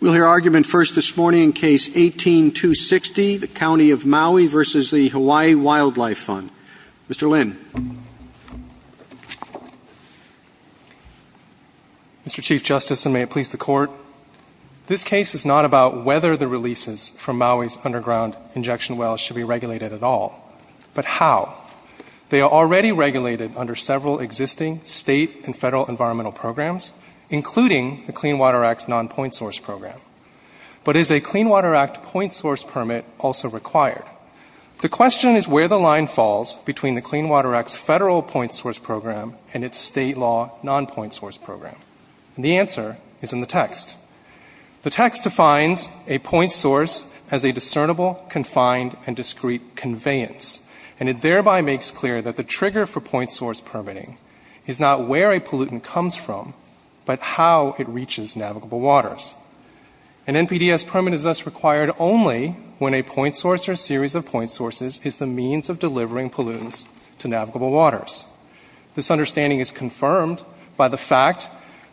We'll hear argument first this morning in Case 18-260, the County of Maui v. the Hawaii Wildlife Fund. Mr. Lin. Mr. Chief Justice, and may it please the Court, this case is not about whether the releases from Maui's underground injection wells should be regulated at all, but how. They are already regulated under several existing State and Federal environmental programs, including the Clean Water Act's non-point source program. But is a Clean Water Act point source permit also required? The question is where the line falls between the Clean Water Act's Federal point source program and its State law non-point source program. And the answer is in the text. The text defines a point source as a discernible, confined, and discrete conveyance, and it thereby makes clear that the trigger for point source permitting is not where a pollutant comes from, but how it reaches navigable waters. An NPDES permit is thus required only when a point source or a series of point sources is the means of delivering pollutants to navigable waters. This understanding is confirmed by the fact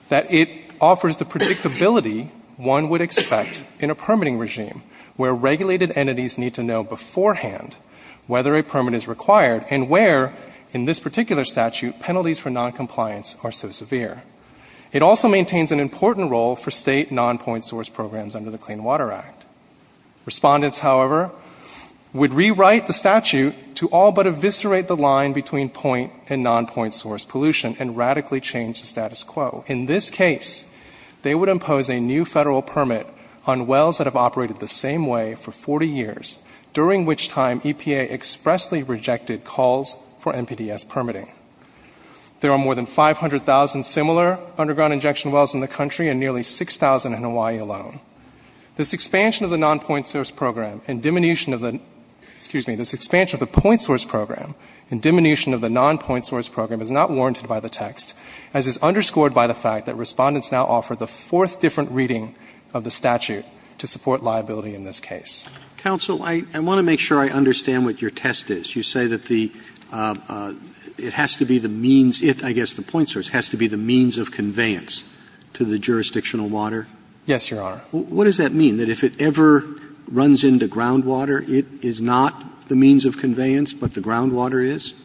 that it offers the predictability one would expect in a permitting regime, where regulated entities need to know beforehand whether a permit is required and where, in this particular statute, penalties for noncompliance are so severe. It also maintains an important role for State non-point source programs under the Clean Water Act. Respondents, however, would rewrite the statute to all but eviscerate the line between point and non-point source pollution and radically change the status quo. In this case, they would impose a new Federal permit on wells that have operated the same way for 40 years, during which time EPA expressly rejected calls for NPDES permitting. There are more than 500,000 similar underground injection wells in the country and nearly 6,000 in Hawaii alone. This expansion of the non-point source program and diminution of the — excuse me, this expansion of the point source program and diminution of the non-point source program is not warranted by the text, as is underscored by the fact that Respondents now offer the fourth different reading of the statute to support liability in this case. Roberts. Counsel, I want to make sure I understand what your test is. You say that the — it has to be the means — I guess the point source has to be the means of conveyance to the jurisdictional water? Yes, Your Honor. What does that mean, that if it ever runs into groundwater, it is not the means of conveyance, but the groundwater is?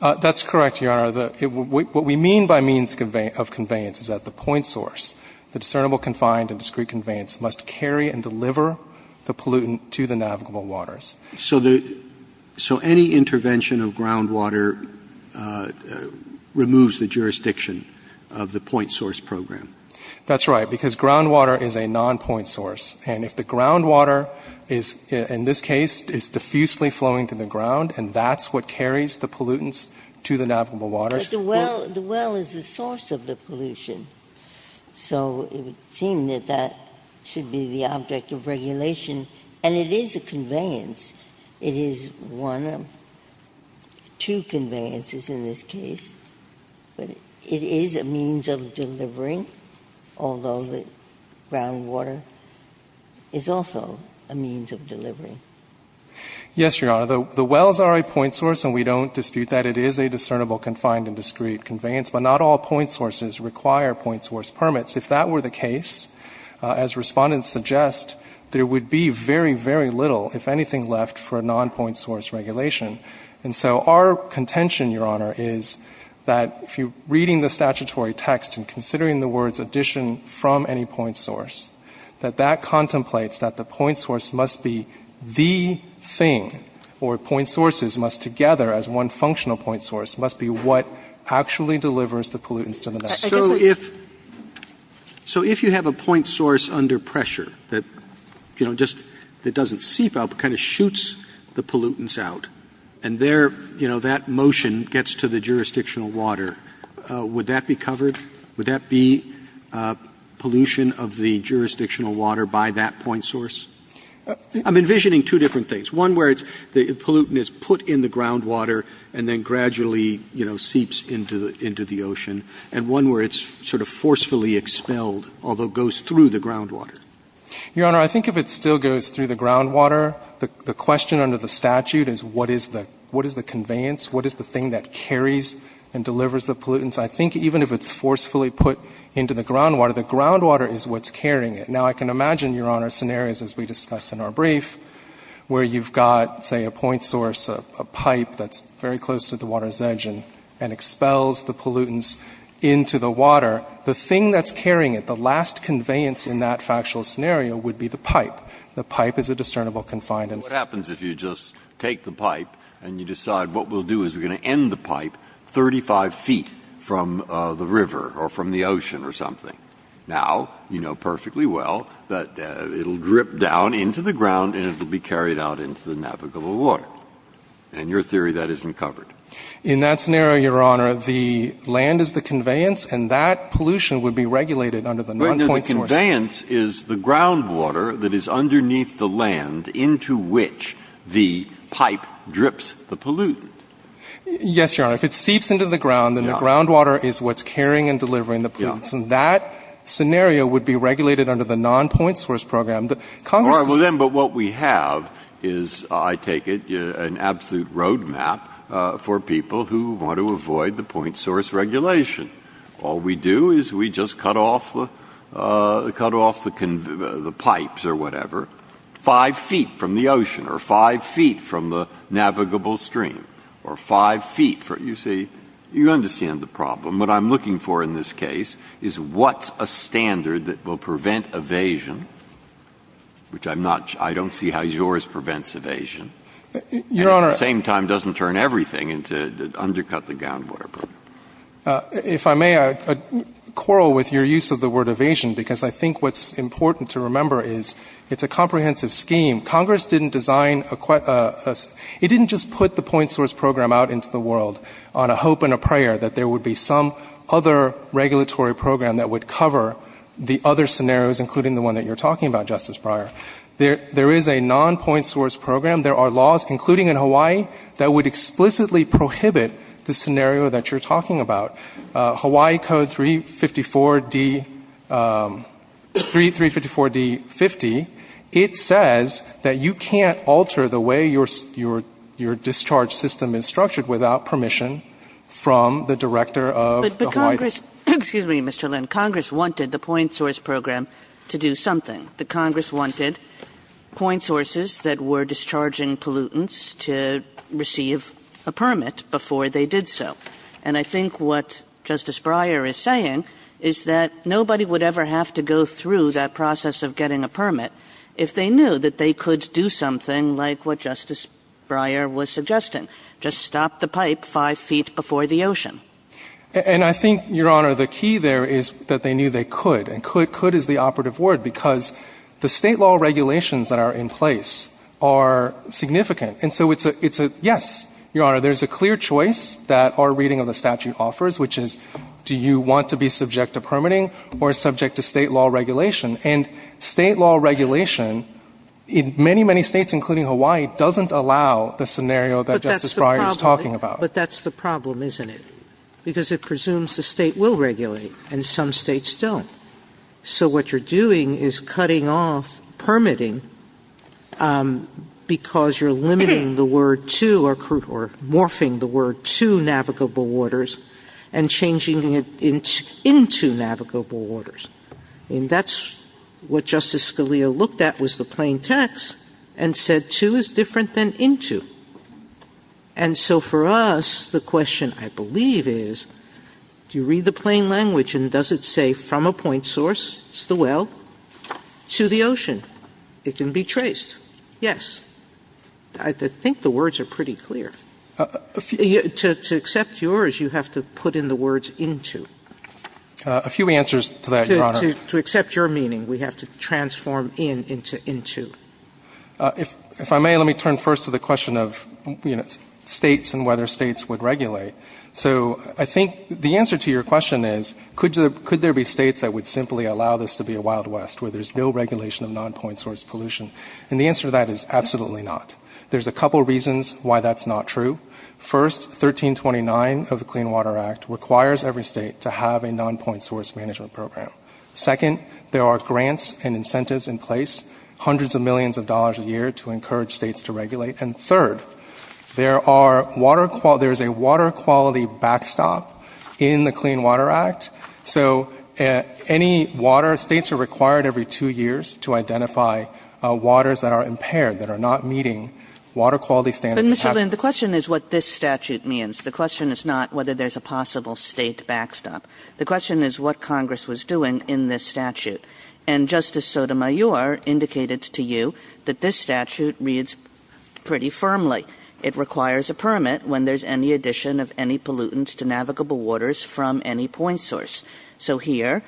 That's correct, Your Honor. What we mean by means of conveyance is that the point source program carries the pollutants to the navigable waters. So the — so any intervention of groundwater removes the jurisdiction of the point source program? That's right, because groundwater is a non-point source. And if the groundwater is, in this case, is diffusely flowing through the ground, and that's what carries the pollutants to the navigable waters — But the well — the well is the source of the pollution. So it would seem that that should be the object of regulation. And it is a conveyance. It is one of two conveyances in this case. But it is a means of delivering, although the groundwater is also a means of delivering. Yes, Your Honor. The wells are a point source, and we don't dispute that. It is a discernible, confined, and discrete conveyance. But not all point sources require point source permits. If that were the case, as Respondents suggest, there would be very, very little, if anything, left for a non-point source regulation. And so our contention, Your Honor, is that if you're reading the statutory text and considering the words addition from any point source, that that contemplates that the point source must be the thing, or point sources must together, as one functional point source, must be the thing. So if — so if you have a point source under pressure that, you know, just — that doesn't seep out, but kind of shoots the pollutants out, and there, you know, that motion gets to the jurisdictional water, would that be covered? Would that be pollution of the jurisdictional water by that point source? I'm envisioning two different things, one where it's — the pollutant is put in the groundwater and then gradually, you know, seeps into the — into the ocean, and one where it's sort of forcefully expelled, although goes through the groundwater. Your Honor, I think if it still goes through the groundwater, the question under the statute is what is the — what is the conveyance? What is the thing that carries and delivers the pollutants? I think even if it's forcefully put into the groundwater, the groundwater is what's carrying it. Now, I can imagine, Your Honor, scenarios, as we discussed in our brief, where you've got, say, a point source, a pipe that's very close to the water's edge and — and expels the pollutants into the water, the thing that's carrying it, the last conveyance in that factual scenario would be the pipe. The pipe is a discernible confinement. Breyer. What happens if you just take the pipe and you decide what we'll do is we're going to end the pipe 35 feet from the river or from the ocean or something? Now, you know perfectly well that it'll drip down into the ground and it'll be carried out into the navigable water. In your theory, that isn't covered. In that scenario, Your Honor, the land is the conveyance, and that pollution would be regulated under the non-point source. But the conveyance is the groundwater that is underneath the land into which the pipe drips the pollutant. Yes, Your Honor. If it seeps into the ground, then the groundwater is what's carrying and delivering the pollutants. And that scenario would be regulated under the non-point source program. Congress doesn't — Well, then, but what we have is, I take it, an absolute roadmap for people who want to avoid the point source regulation. All we do is we just cut off the — cut off the pipes or whatever 5 feet from the ocean or 5 feet from the navigable stream or 5 feet from — you see, you understand the problem. What I'm looking for in this case is what's a standard that will prevent evasion, which I'm not — I don't see how yours prevents evasion. Your Honor — And at the same time doesn't turn everything into — undercut the groundwater program. If I may, I'd quarrel with your use of the word evasion, because I think what's important to remember is it's a comprehensive scheme. Congress didn't design a — it didn't just put the point source program out into the world on a hope and a prayer that there would be some other regulatory program that would cover the other scenarios, including the one that you're talking about, Justice Breyer. There is a non-point source program. There are laws, including in Hawaii, that would explicitly prohibit the scenario that you're talking about. Hawaii Code 354D — 3354D50, it says that you can't alter the way your — your discharge system is structured without permission from the director of the Hawaii District. But Congress — excuse me, Mr. Lynn — Congress wanted the point source program to do something. The Congress wanted point sources that were discharging pollutants to receive a permit before they did so. And I think what Justice Breyer is saying is that nobody would ever have to go through that process of getting a permit if they knew that they could do something like what Justice Breyer was suggesting, just stop the pipe five feet before the ocean. And I think, Your Honor, the key there is that they knew they could. And could — could is the operative word, because the State law regulations that are in place are significant. And so it's a — it's a yes, Your Honor. There's a clear choice that our reading of the statute offers, which is do you want to be subject to permitting or subject to State law regulation? And State law regulation in many, many States, including Hawaii, doesn't allow the scenario that Justice Breyer is talking about. But that's the problem, isn't it? Because it presumes the State will regulate, and some States don't. So what you're doing is cutting off permitting because you're limiting the word to — or morphing the word to navigable waters and changing it into navigable waters. And that's what Justice Scalia looked at was the plain text and said, into is different than into. And so for us, the question, I believe, is do you read the plain language and does it say from a point source, it's the well, to the ocean? It can be traced. Yes. I think the words are pretty clear. To accept yours, you have to put in the words into. A few answers to that, Your Honor. To accept your meaning, we have to transform in into into. If I may, let me turn first to the question of, you know, States and whether States would regulate. So I think the answer to your question is, could there be States that would simply allow this to be a wild west where there's no regulation of non-point source pollution? And the answer to that is absolutely not. There's a couple reasons why that's not true. First, 1329 of the Clean Water Act requires every State to have a non-point source management program. Second, there are grants and incentives in place, hundreds of millions of dollars a year to encourage States to regulate. And third, there are water quality – there's a water quality backstop in the Clean Water Act. So any water – States are required every two years to identify waters that are impaired, that are not meeting water quality standards. But, Mr. Lin, the question is what this statute means. The question is not whether there's a possible State backstop. The question is what Congress was doing in this statute. And Justice Sotomayor indicated to you that this statute reads pretty firmly. It requires a permit when there's any addition of any pollutants to navigable waters from any point source. So here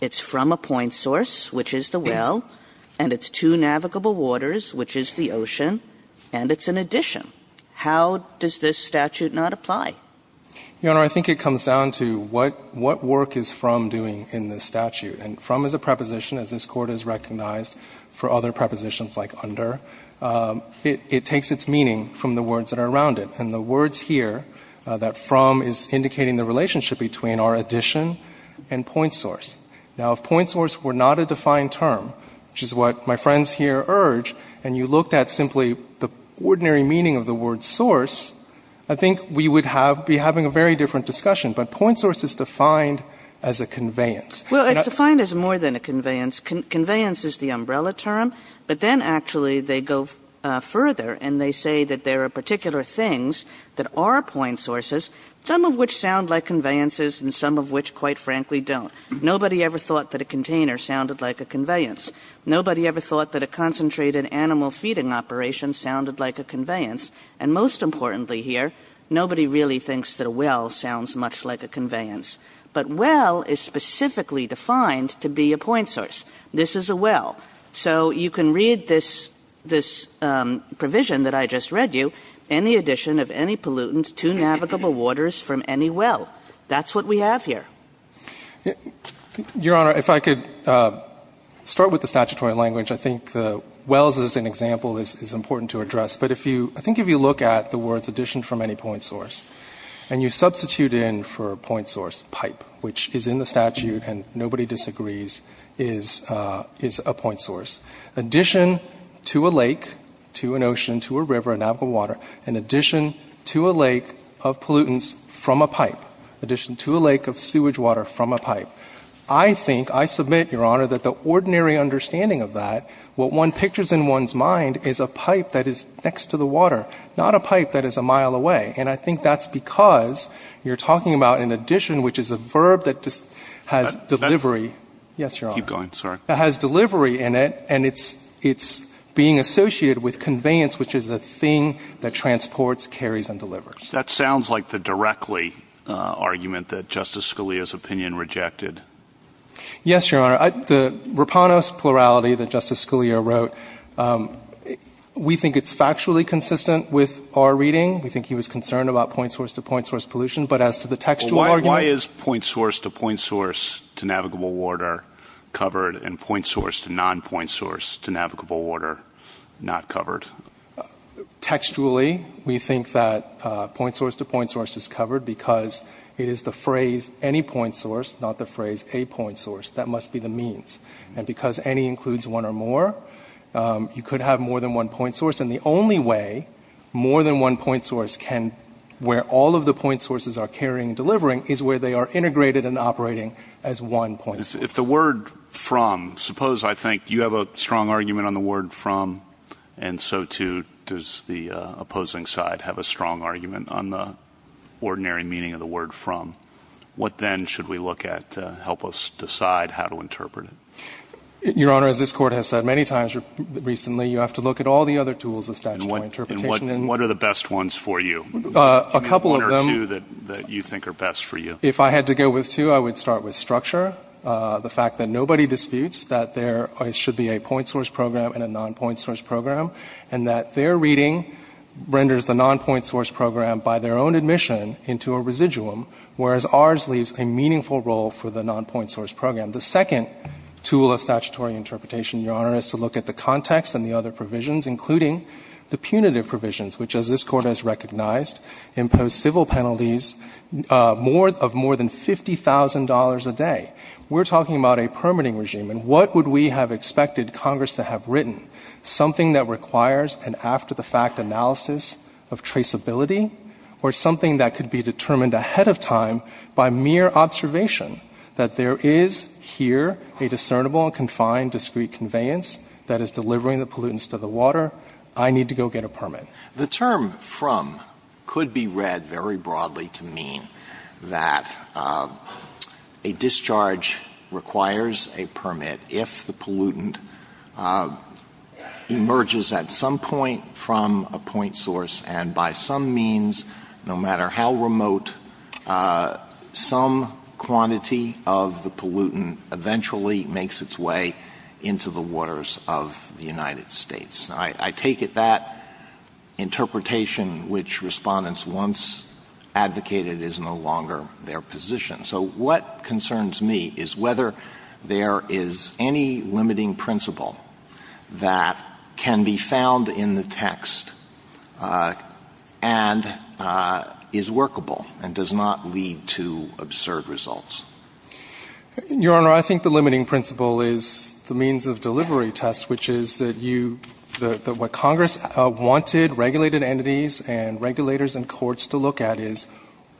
it's from a point source, which is the well, and it's to navigable waters, which is the ocean, and it's an addition. How does this statute not apply? Your Honor, I think it comes down to what work is from doing in this statute. And from is a preposition, as this Court has recognized for other prepositions like under. It takes its meaning from the words that are around it. And the words here that from is indicating the relationship between our addition and point source. Now, if point source were not a defined term, which is what my friends here urge, and you looked at simply the ordinary meaning of the word source, I think we would have be having a very different discussion. But point source is defined as a conveyance. Kagan. Well, it's defined as more than a conveyance. Conveyance is the umbrella term. But then actually they go further and they say that there are particular things that are point sources, some of which sound like conveyances and some of which, quite frankly, don't. Nobody ever thought that a container sounded like a conveyance. Nobody ever thought that a concentrated animal feeding operation sounded like a conveyance. And most importantly here, nobody really thinks that a well sounds much like a conveyance. But well is specifically defined to be a point source. This is a well. So you can read this provision that I just read you. Any addition of any pollutant to navigable waters from any well. That's what we have here. Your Honor, if I could start with the statutory language. I think the wells as an example is important to address. But I think if you look at the words addition from any point source and you substitute in for point source pipe, which is in the statute and nobody disagrees, is a point source. Addition to a lake, to an ocean, to a river, a navigable water, in addition to a lake of pollutants from a pipe, addition to a lake of sewage water from a pipe. I think, I submit, Your Honor, that the ordinary understanding of that, what one pictures in one's mind is a pipe that is next to the water, not a pipe that is a mile away. And I think that's because you're talking about an addition, which is a verb that has delivery. Yes, Your Honor. Keep going, sorry. It has delivery in it and it's being associated with conveyance, which is the thing that transports, carries and delivers. That sounds like the directly argument that Justice Scalia's opinion rejected. Yes, Your Honor. The Raponos plurality that Justice Scalia wrote, we think it's factually consistent with our reading. We think he was concerned about point source to point source pollution. But as to the textual argument. Why is point source to point source to navigable water covered and point source to non-point source to navigable water not covered? Textually, we think that point source to point source is covered because it is the phrase any point source, not the phrase a point source. That must be the means. And because any includes one or more, you could have more than one point source. And the only way more than one point source can, where all of the point sources are carrying and delivering, is where they are integrated and operating as one point source. If the word from, suppose I think you have a strong argument on the word from, and so too does the opposing side have a strong argument on the ordinary meaning of the word from. What then should we look at to help us decide how to interpret it? Your Honor, as this Court has said many times recently, you have to look at all the other tools of statutory interpretation. And what are the best ones for you? A couple of them. One or two that you think are best for you. If I had to go with two, I would start with structure. The fact that nobody disputes that there should be a point source program and a non-point source program, and that their reading renders the non-point source program by their own admission into a residuum, whereas ours leaves a meaningful role for the non-point source program. The second tool of statutory interpretation, Your Honor, is to look at the context and the other provisions, including the punitive provisions, which, as this Court has recognized, impose civil penalties of more than $50,000 a day. We're talking about a permitting regime. And what would we have expected Congress to have written? Something that requires an after-the-fact analysis of traceability or something that could be determined ahead of time by mere observation that there is here a discernible and confined discrete conveyance that is delivering the pollutants to the water. I need to go get a permit. The term from could be read very broadly to mean that a discharge requires a permit if the pollutant emerges at some point from a point source, and by some means, no matter how remote, some quantity of the pollutant eventually makes its way into the waters of the United States. I take it that interpretation which Respondents once advocated is no longer their position. So what concerns me is whether there is any limiting principle that can be found in the text and is workable and does not lead to absurd results. Your Honor, I think the limiting principle is the means of delivery test, which is that what Congress wanted regulated entities and regulators and courts to look at is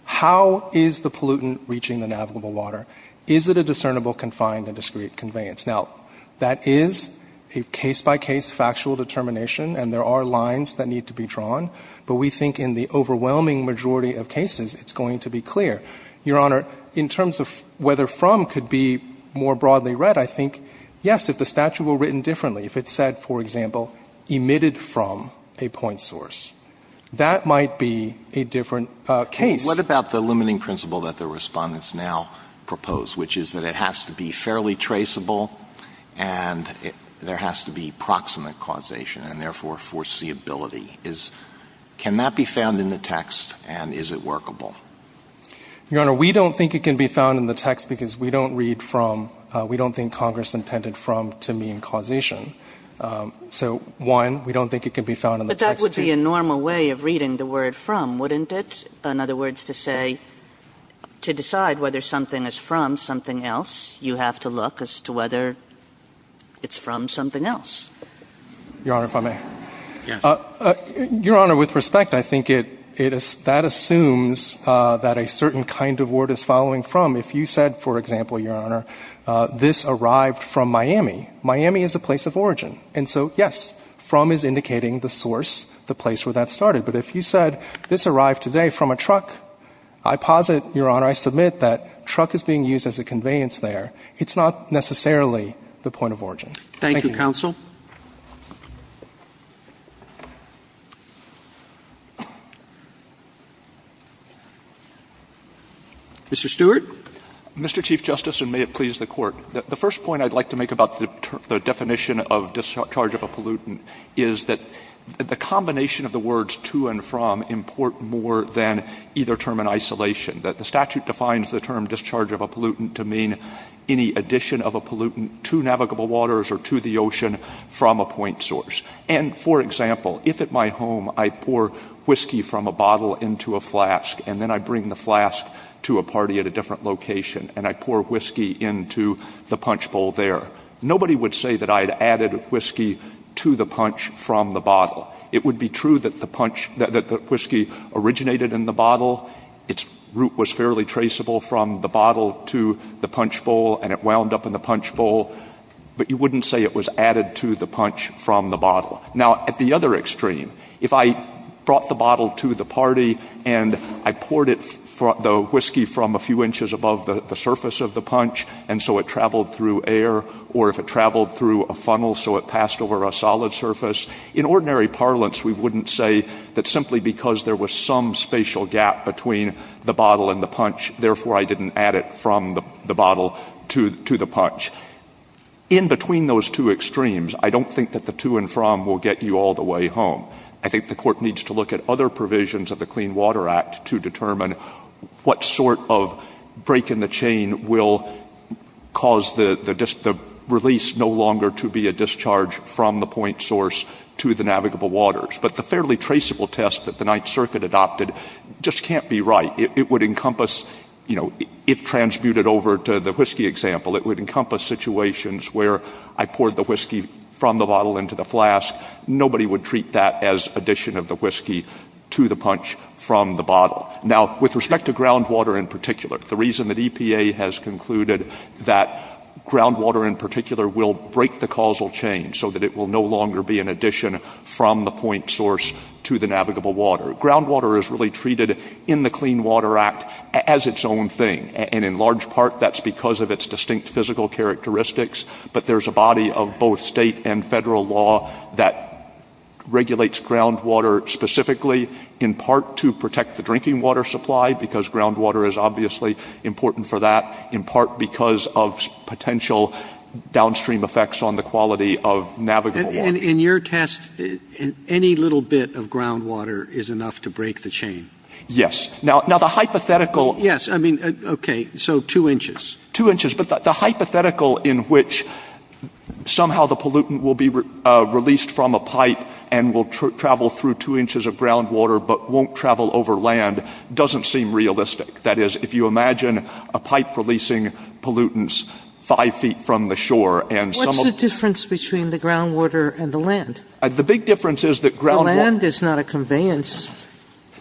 how is the pollutant reaching the navigable water? Is it a discernible, confined and discrete conveyance? Now, that is a case-by-case factual determination and there are lines that need to be drawn, but we think in the overwhelming majority of cases it's going to be clear. Your Honor, in terms of whether from could be more broadly read, I think, yes, if the pollutant said, for example, emitted from a point source, that might be a different case. What about the limiting principle that the Respondents now propose, which is that it has to be fairly traceable and there has to be proximate causation and therefore foreseeability? Can that be found in the text and is it workable? Your Honor, we don't think it can be found in the text because we don't read from and we don't think Congress intended from to mean causation. So, one, we don't think it can be found in the text. But that would be a normal way of reading the word from, wouldn't it? In other words, to say, to decide whether something is from something else, you have to look as to whether it's from something else. Your Honor, if I may. Yes. Your Honor, with respect, I think that assumes that a certain kind of word is following from. If you said, for example, Your Honor, this arrived from Miami. Miami is a place of origin. And so, yes, from is indicating the source, the place where that started. But if you said this arrived today from a truck, I posit, Your Honor, I submit that truck is being used as a conveyance there. It's not necessarily the point of origin. Thank you. Thank you, counsel. Mr. Stewart. Mr. Chief Justice, and may it please the Court. The first point I'd like to make about the definition of discharge of a pollutant is that the combination of the words to and from import more than either term in isolation. The statute defines the term discharge of a pollutant to mean any addition of a pollutant to navigable waters or to the ocean from a point source. And, for example, if at my home I pour whiskey from a bottle into a flask, and then I bring the flask to a party at a different location, and I pour whiskey into the punch bowl there, nobody would say that I had added whiskey to the punch from the bottle. It would be true that the whiskey originated in the bottle. Its root was fairly traceable from the bottle to the punch bowl, and it wound up in the bottle, but you wouldn't say it was added to the punch from the bottle. Now, at the other extreme, if I brought the bottle to the party and I poured the whiskey from a few inches above the surface of the punch, and so it traveled through air, or if it traveled through a funnel so it passed over a solid surface, in ordinary parlance we wouldn't say that simply because there was some spatial gap between the bottle and the punch, therefore I didn't add it from the bottle to the punch. In between those two extremes, I don't think that the to and from will get you all the way home. I think the Court needs to look at other provisions of the Clean Water Act to determine what sort of break in the chain will cause the release no longer to be a discharge from the point source to the navigable waters. But the fairly traceable test that the Ninth Circuit adopted just can't be right. It would encompass, if transmuted over to the whiskey example, it would encompass situations where I poured the whiskey from the bottle into the flask, nobody would treat that as addition of the whiskey to the punch from the bottle. Now, with respect to groundwater in particular, the reason that EPA has concluded that groundwater in particular will break the causal chain so that it will no longer be an addition from the point source to the navigable water. Groundwater is really treated in the Clean Water Act as its own thing, and in large part that's because of its distinct physical characteristics. But there's a body of both state and federal law that regulates groundwater specifically in part to protect the drinking water supply, because groundwater is obviously important for that, in part because of potential downstream effects on the quality of navigable water. And in your test, any little bit of groundwater is enough to break the chain? Yes. Now, the hypothetical... Yes, I mean, okay, so two inches. Two inches. But the hypothetical in which somehow the pollutant will be released from a pipe and will travel through two inches of groundwater but won't travel over land doesn't seem realistic. That is, if you imagine a pipe releasing pollutants five feet from the shore and some of... Groundwater and the land. The big difference is that groundwater... The land is not a conveyance.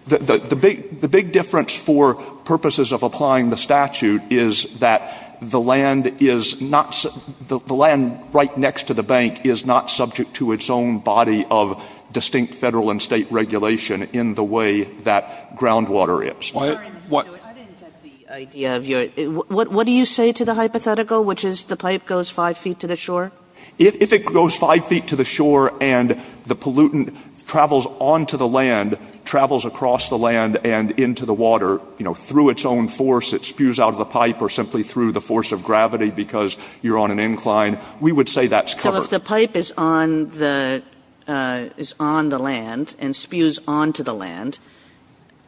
The big difference for purposes of applying the statute is that the land is not the land right next to the bank is not subject to its own body of distinct federal and state regulation in the way that groundwater is. I didn't get the idea of your... What do you say to the hypothetical, which is the pipe goes five feet to the shore? If it goes five feet to the shore and the pollutant travels onto the land, travels across the land and into the water through its own force, it spews out of the pipe or simply through the force of gravity because you're on an incline, we would say that's covered. So if the pipe is on the land and spews onto the land,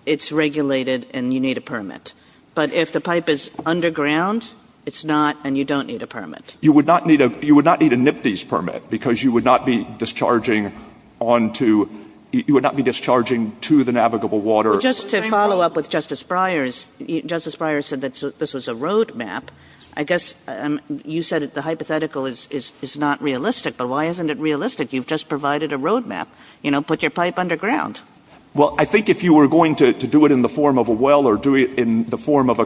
it's regulated and you need a permit. But if the pipe is underground, it's not and you don't need a permit. You would not need a NIPTES permit because you would not be discharging onto... You would not be discharging to the navigable water. Just to follow up with Justice Breyer's... Justice Breyer said that this was a road map. I guess you said the hypothetical is not realistic, but why isn't it realistic? You've just provided a road map. Put your pipe underground. Well, I think if you were going to do it in the form of a well or do it in the form of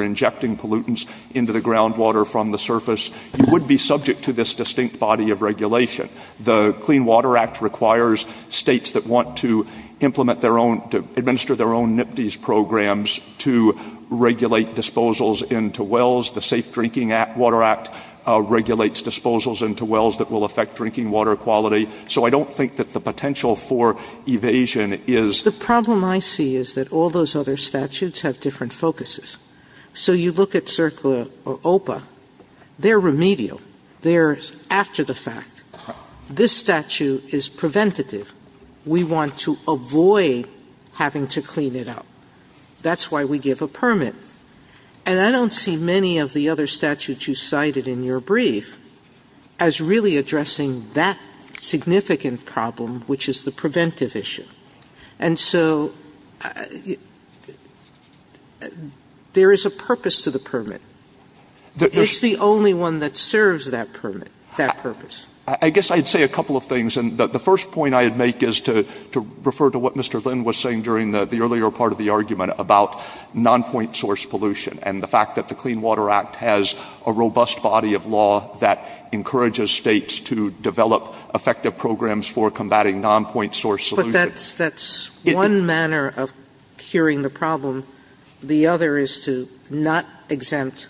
injecting pollutants into the groundwater from the surface, you would be subject to this distinct body of regulation. The Clean Water Act requires states that want to implement their own, to administer their own NIPTES programs to regulate disposals into wells. The Safe Drinking Water Act regulates disposals into wells that will affect drinking water quality. So I don't think that the potential for evasion is... So you look at CERCLA or OPA, they're remedial. They're after the fact. This statute is preventative. We want to avoid having to clean it up. That's why we give a permit. And I don't see many of the other statutes you cited in your brief as really addressing that significant problem, which is the preventive issue. And so there is a purpose to the permit. It's the only one that serves that permit, that purpose. I guess I'd say a couple of things. And the first point I would make is to refer to what Mr. Lynn was saying during the earlier part of the argument about nonpoint source pollution and the fact that the Clean Water Act has a robust body of law that encourages states to develop effective programs for combating nonpoint source pollution. But that's one manner of curing the problem. The other is to not exempt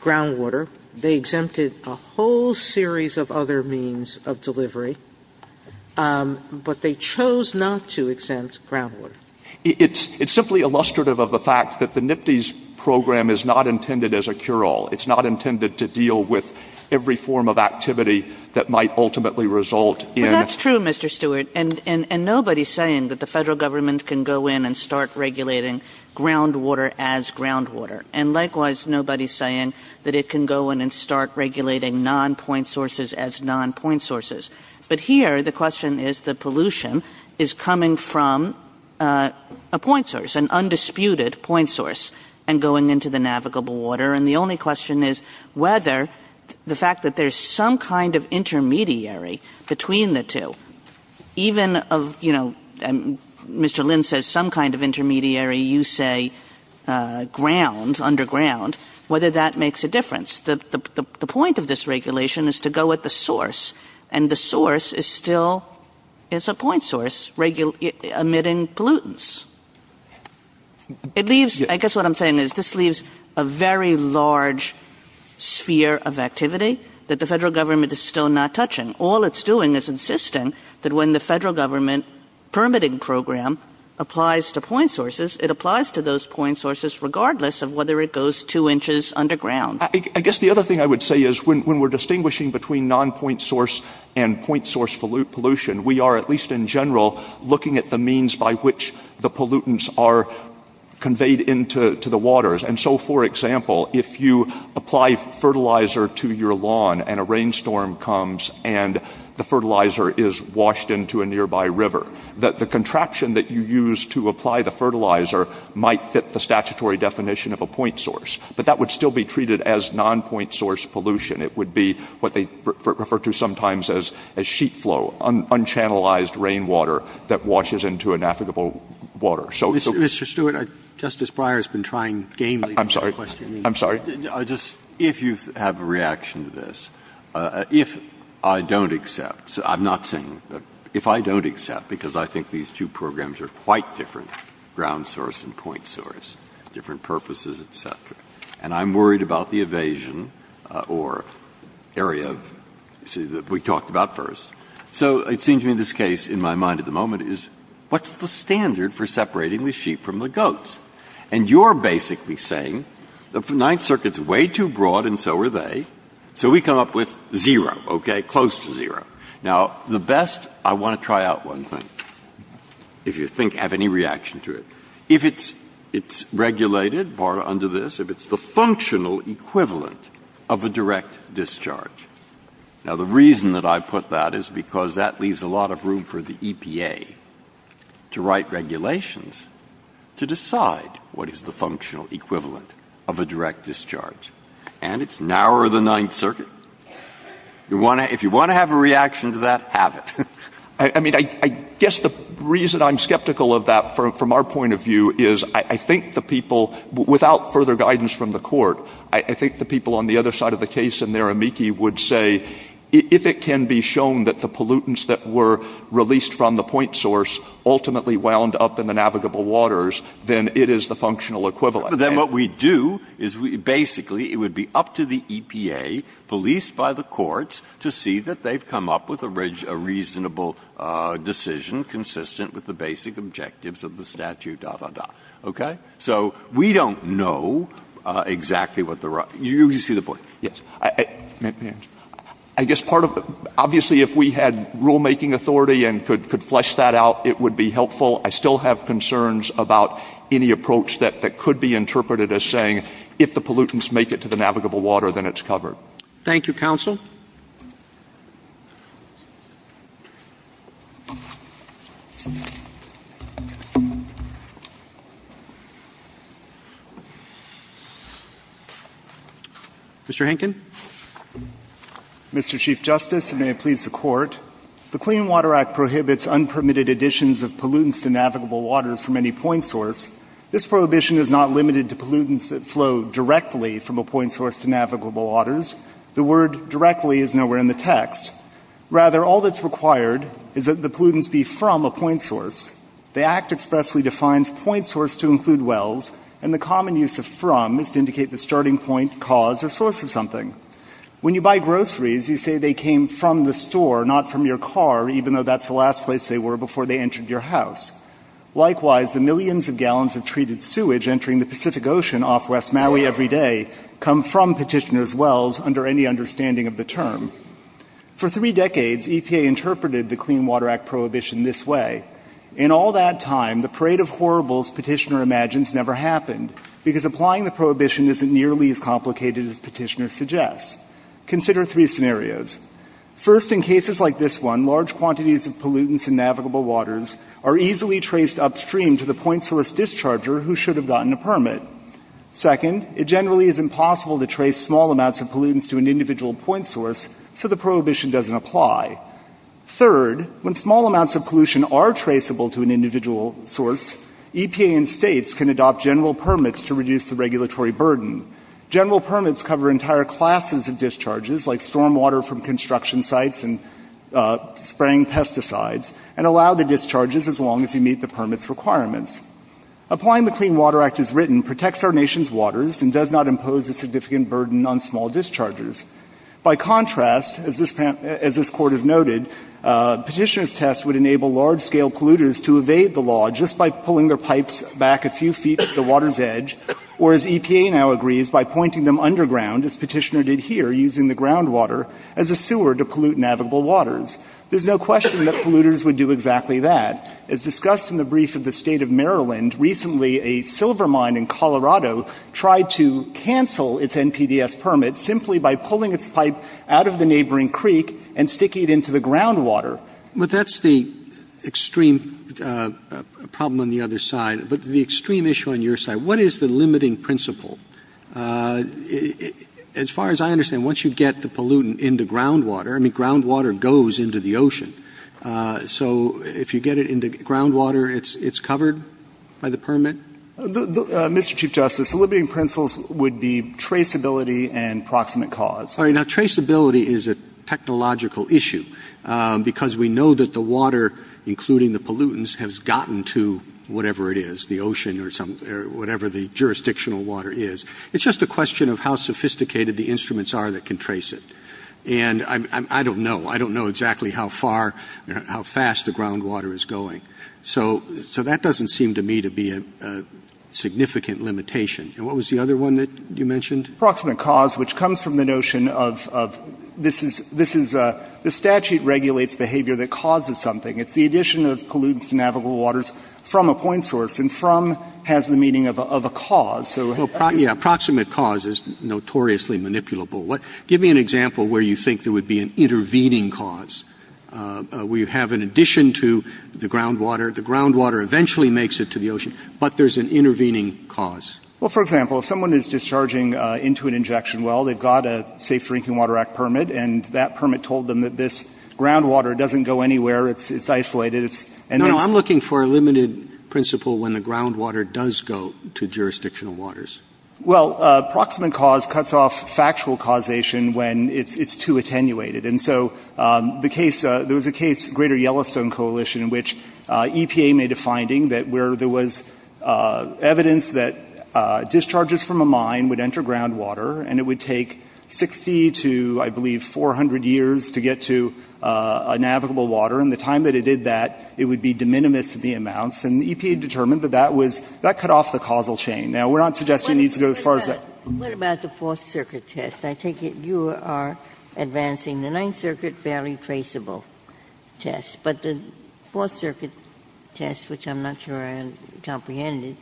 groundwater. They exempted a whole series of other means of delivery, but they chose not to exempt groundwater. It's simply illustrative of the fact that the NIPTES program is not intended as a cure-all. It's not intended to deal with every form of activity that might ultimately result in... Well, that's true, Mr. Stewart. And nobody's saying that the federal government can go in and start regulating groundwater as groundwater. And likewise, nobody's saying that it can go in and start regulating nonpoint sources as nonpoint sources. But here, the question is that pollution is coming from a point source, an undisputed point source, and going into the navigable water. And the only question is whether the fact that there's some kind of intermediary between the two, even of, you know, Mr. Lynn says some kind of intermediary, you say ground, underground, whether that makes a difference. The point of this regulation is to go at the source. And the source is still, it's a point source, emitting pollutants. It leaves, I guess what I'm saying is, this leaves a very large sphere of activity that the federal government is still not touching. All it's doing is insisting that when the federal government permitting program applies to point sources, it applies to those point sources regardless of whether it goes two inches underground. I guess the other thing I would say is when we're distinguishing between nonpoint source and point source pollution, we are, at least in general, looking at the means by which the pollutants are conveyed into the waters. And so, for example, if you apply fertilizer to your lawn and a rainstorm comes and the fertilizer is washed into a nearby river, the contraption that you use to apply the fertilizer might fit the statutory definition of a point source. But that would still be treated as nonpoint source pollution. It would be what they refer to sometimes as a sheet flow, unchannelized rainwater that washes into an affluent water. Roberts. Mr. Stewart, Justice Breyer has been trying gamely. I'm sorry. I'm sorry. I just, if you have a reaction to this, if I don't accept, I'm not saying, if I don't accept because I think these two programs are quite different, ground source and point source, different purposes, et cetera, and I'm worried about the evasion or area of, you see, that we talked about first. So it seems to me this case in my mind at the moment is what's the standard for separating the sheep from the goats? And you're basically saying the Ninth Circuit is way too broad and so are they, so we come up with zero, okay, close to zero. Now, the best, I want to try out one thing, if you think, have any reaction to it. If it's regulated under this, if it's the functional equivalent of a direct discharge. Now, the reason that I put that is because that leaves a lot of room for the EPA to write regulations to decide what is the functional equivalent of a direct discharge. And it's narrower than Ninth Circuit. If you want to have a reaction to that, have it. I mean, I guess the reason I'm skeptical of that from our point of view is I think the people, without further guidance from the court, I think the people on the other side of the case in there, amici, would say if it can be shown that the pollutants that were released from the point source ultimately wound up in the navigable waters, then it is the functional equivalent. Breyer. But then what we do is basically it would be up to the EPA, policed by the courts, to see that they've come up with a reasonable decision consistent with the basic objectives of the statute, da, da, da, okay? So we don't know exactly what the right, you see the point. Yes. I guess part of, obviously, if we had rulemaking authority and could flesh that out, it would be helpful. I still have concerns about any approach that could be interpreted as saying if the pollutants make it to the navigable water, then it's covered. Thank you, counsel. Mr. Henkin. Mr. Chief Justice, and may it please the Court, the Clean Water Act prohibits unpermitted additions of pollutants to navigable waters from any point source. This prohibition is not limited to pollutants that flow directly from a point source to navigable waters. to navigable waters. Rather, all that's required is that the pollutants be from a point source. The Act expressly defines point source to include wells, and the common use of from is to indicate the starting point, cause, or source of something. When you buy groceries, you say they came from the store, not from your car, even though that's the last place they were before they entered your house. Likewise, the millions of gallons of treated sewage entering the Pacific Ocean off West Maui every day come from petitioner's wells under any understanding of the term. For three decades, EPA interpreted the Clean Water Act prohibition this way. In all that time, the parade of horribles petitioner imagines never happened, because applying the prohibition isn't nearly as complicated as petitioner suggests. Consider three scenarios. First, in cases like this one, large quantities of pollutants in navigable waters are easily traced upstream to the point source discharger who should have gotten a permit. Second, it generally is impossible to trace small amounts of pollutants to an individual point source, so the prohibition doesn't apply. Third, when small amounts of pollution are traceable to an individual source, EPA and states can adopt general permits to reduce the regulatory burden. General permits cover entire classes of discharges, like storm water from construction sites and spraying pesticides, and allow the discharges as long as you meet the permit's requirements. Applying the Clean Water Act as written protects our nation's waters and does not impose a significant burden on small discharges. By contrast, as this Court has noted, petitioner's test would enable large-scale polluters to evade the law just by pulling their pipes back a few feet at the water's edge, or, as EPA now agrees, by pointing them underground, as petitioner did here, using the groundwater as a sewer to pollute navigable waters. There's no question that polluters would do exactly that. As discussed in the brief of the State of Maryland, recently a silver mine in New York City canceled its NPDES permit simply by pulling its pipe out of the neighboring creek and sticking it into the groundwater. Roberts. But that's the extreme problem on the other side. But the extreme issue on your side, what is the limiting principle? As far as I understand, once you get the pollutant into groundwater, I mean, groundwater goes into the ocean. So if you get it into groundwater, it's covered by the permit? Mr. Chief Justice, the limiting principles would be traceability and proximate cause. All right. Now, traceability is a technological issue, because we know that the water, including the pollutants, has gotten to whatever it is, the ocean or whatever the jurisdictional water is. It's just a question of how sophisticated the instruments are that can trace it. And I don't know. I don't know exactly how far, how fast the groundwater is going. So that doesn't seem to me to be a significant limitation. And what was the other one that you mentioned? Proximate cause, which comes from the notion of this is the statute regulates behavior that causes something. It's the addition of pollutants to navigable waters from a point source. And from has the meaning of a cause. So it's the same. Well, yeah, proximate cause is notoriously manipulable. Give me an example where you think there would be an intervening cause, where you have an addition to the groundwater. The groundwater eventually makes it to the ocean. But there's an intervening cause. Well, for example, if someone is discharging into an injection well, they've got a Safe Drinking Water Act permit, and that permit told them that this groundwater doesn't go anywhere. It's isolated. No, I'm looking for a limited principle when the groundwater does go to jurisdictional waters. Well, proximate cause cuts off factual causation when it's too attenuated. And so the case, there was a case, Greater Yellowstone Coalition, in which EPA made a finding that where there was evidence that discharges from a mine would enter groundwater, and it would take 60 to, I believe, 400 years to get to a navigable water, and the time that it did that, it would be de minimis of the amounts. And EPA determined that that was, that cut off the causal chain. Now, we're not suggesting it needs to go as far as that. Ginsburg. What about the Fourth Circuit test? I take it you are advancing the Ninth Circuit value traceable test. But the Fourth Circuit test, which I'm not sure I comprehend it,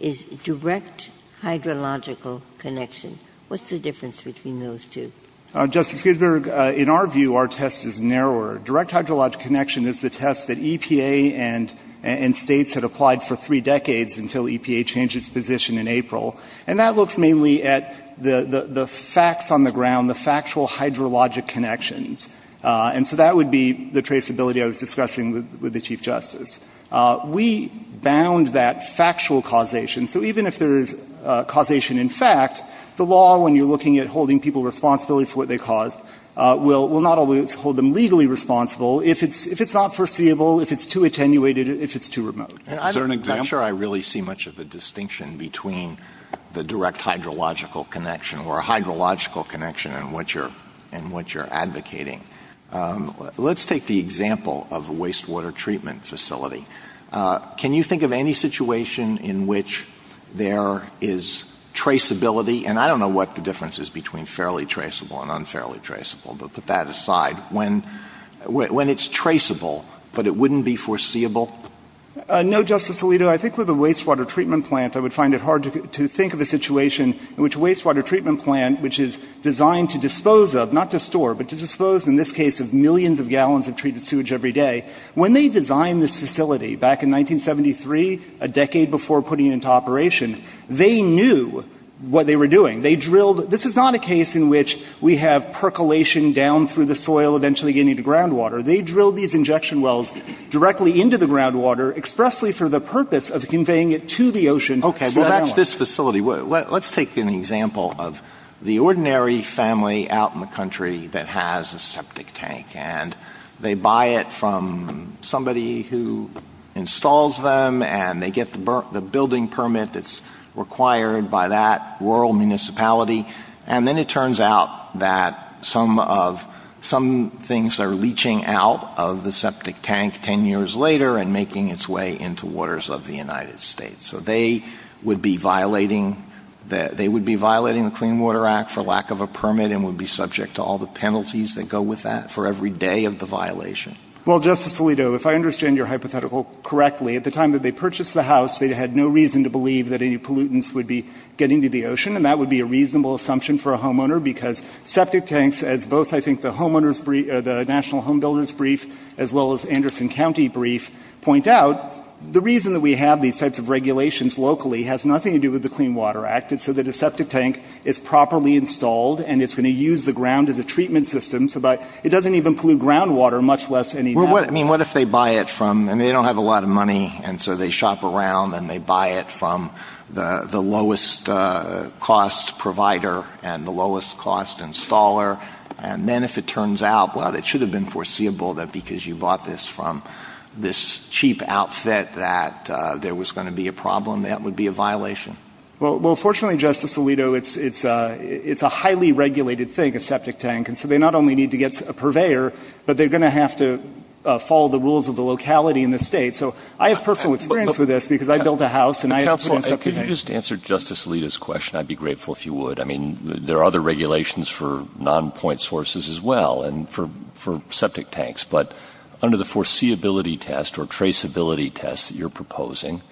is direct hydrological connection. What's the difference between those two? Justice Ginsburg, in our view, our test is narrower. Direct hydrological connection is the test that EPA and States had applied for three decades until EPA changed its position in April. And that looks mainly at the facts on the ground, the factual hydrologic connections. And so that would be the traceability I was discussing with the Chief Justice. We bound that factual causation. So even if there is causation in fact, the law, when you're looking at holding people responsible for what they caused, will not always hold them legally responsible if it's not foreseeable, if it's too attenuated, if it's too remote. Is there an example? I'm not sure I really see much of a distinction between the direct hydrological connection or a hydrological connection and what you're advocating. Let's take the example of a wastewater treatment facility. Can you think of any situation in which there is traceability? And I don't know what the difference is between fairly traceable and unfairly traceable, but put that aside. When it's traceable, but it wouldn't be foreseeable? No, Justice Alito. I think with a wastewater treatment plant, I would find it hard to think of a situation in which a wastewater treatment plant, which is designed to dispose of, not to store, but to dispose, in this case, of millions of gallons of treated sewage every day. When they designed this facility back in 1973, a decade before putting it into operation, they knew what they were doing. They drilled. This is not a case in which we have percolation down through the soil, eventually getting to groundwater. They drilled these injection wells directly into the groundwater expressly for the purpose of conveying it to the ocean. Okay. Well, that's this facility. Let's take an example of the ordinary family out in the country that has a septic tank, and they buy it from somebody who installs them, and they get the building permit that's required by that rural municipality. And then it turns out that some of — some things are leaching out of the septic tank 10 years later and making its way into waters of the United States. So they would be violating — they would be violating the Clean Water Act for lack of a permit and would be subject to all the penalties that go with that for every day of the violation. Well, Justice Alito, if I understand your hypothetical correctly, at the time that they purchased the house, they had no reason to believe that any pollutants would be getting to the ocean, and that would be a reasonable assumption for a homeowner, because septic tanks, as both, I think, the homeowners' brief — the National Homebuilders' brief, as well as Anderson County brief, point out, the reason that we have these types of regulations locally has nothing to do with the Clean Water Act. It's so that a septic tank is properly installed, and it's going to use the ground as a treatment system so that it doesn't even pollute groundwater, much less any — Well, what — I mean, what if they buy it from — and they don't have a lot of cost provider and the lowest cost installer, and then if it turns out, well, it should have been foreseeable that because you bought this from this cheap outfit that there was going to be a problem, that would be a violation? Well, fortunately, Justice Alito, it's a highly regulated thing, a septic tank. And so they not only need to get a purveyor, but they're going to have to follow the rules of the locality in the State. So I have personal experience with this, because I built a house and I — Could you just answer Justice Alito's question? I'd be grateful if you would. I mean, there are other regulations for non-point sources as well and for septic tanks. But under the foreseeability test or traceability test that you're proposing,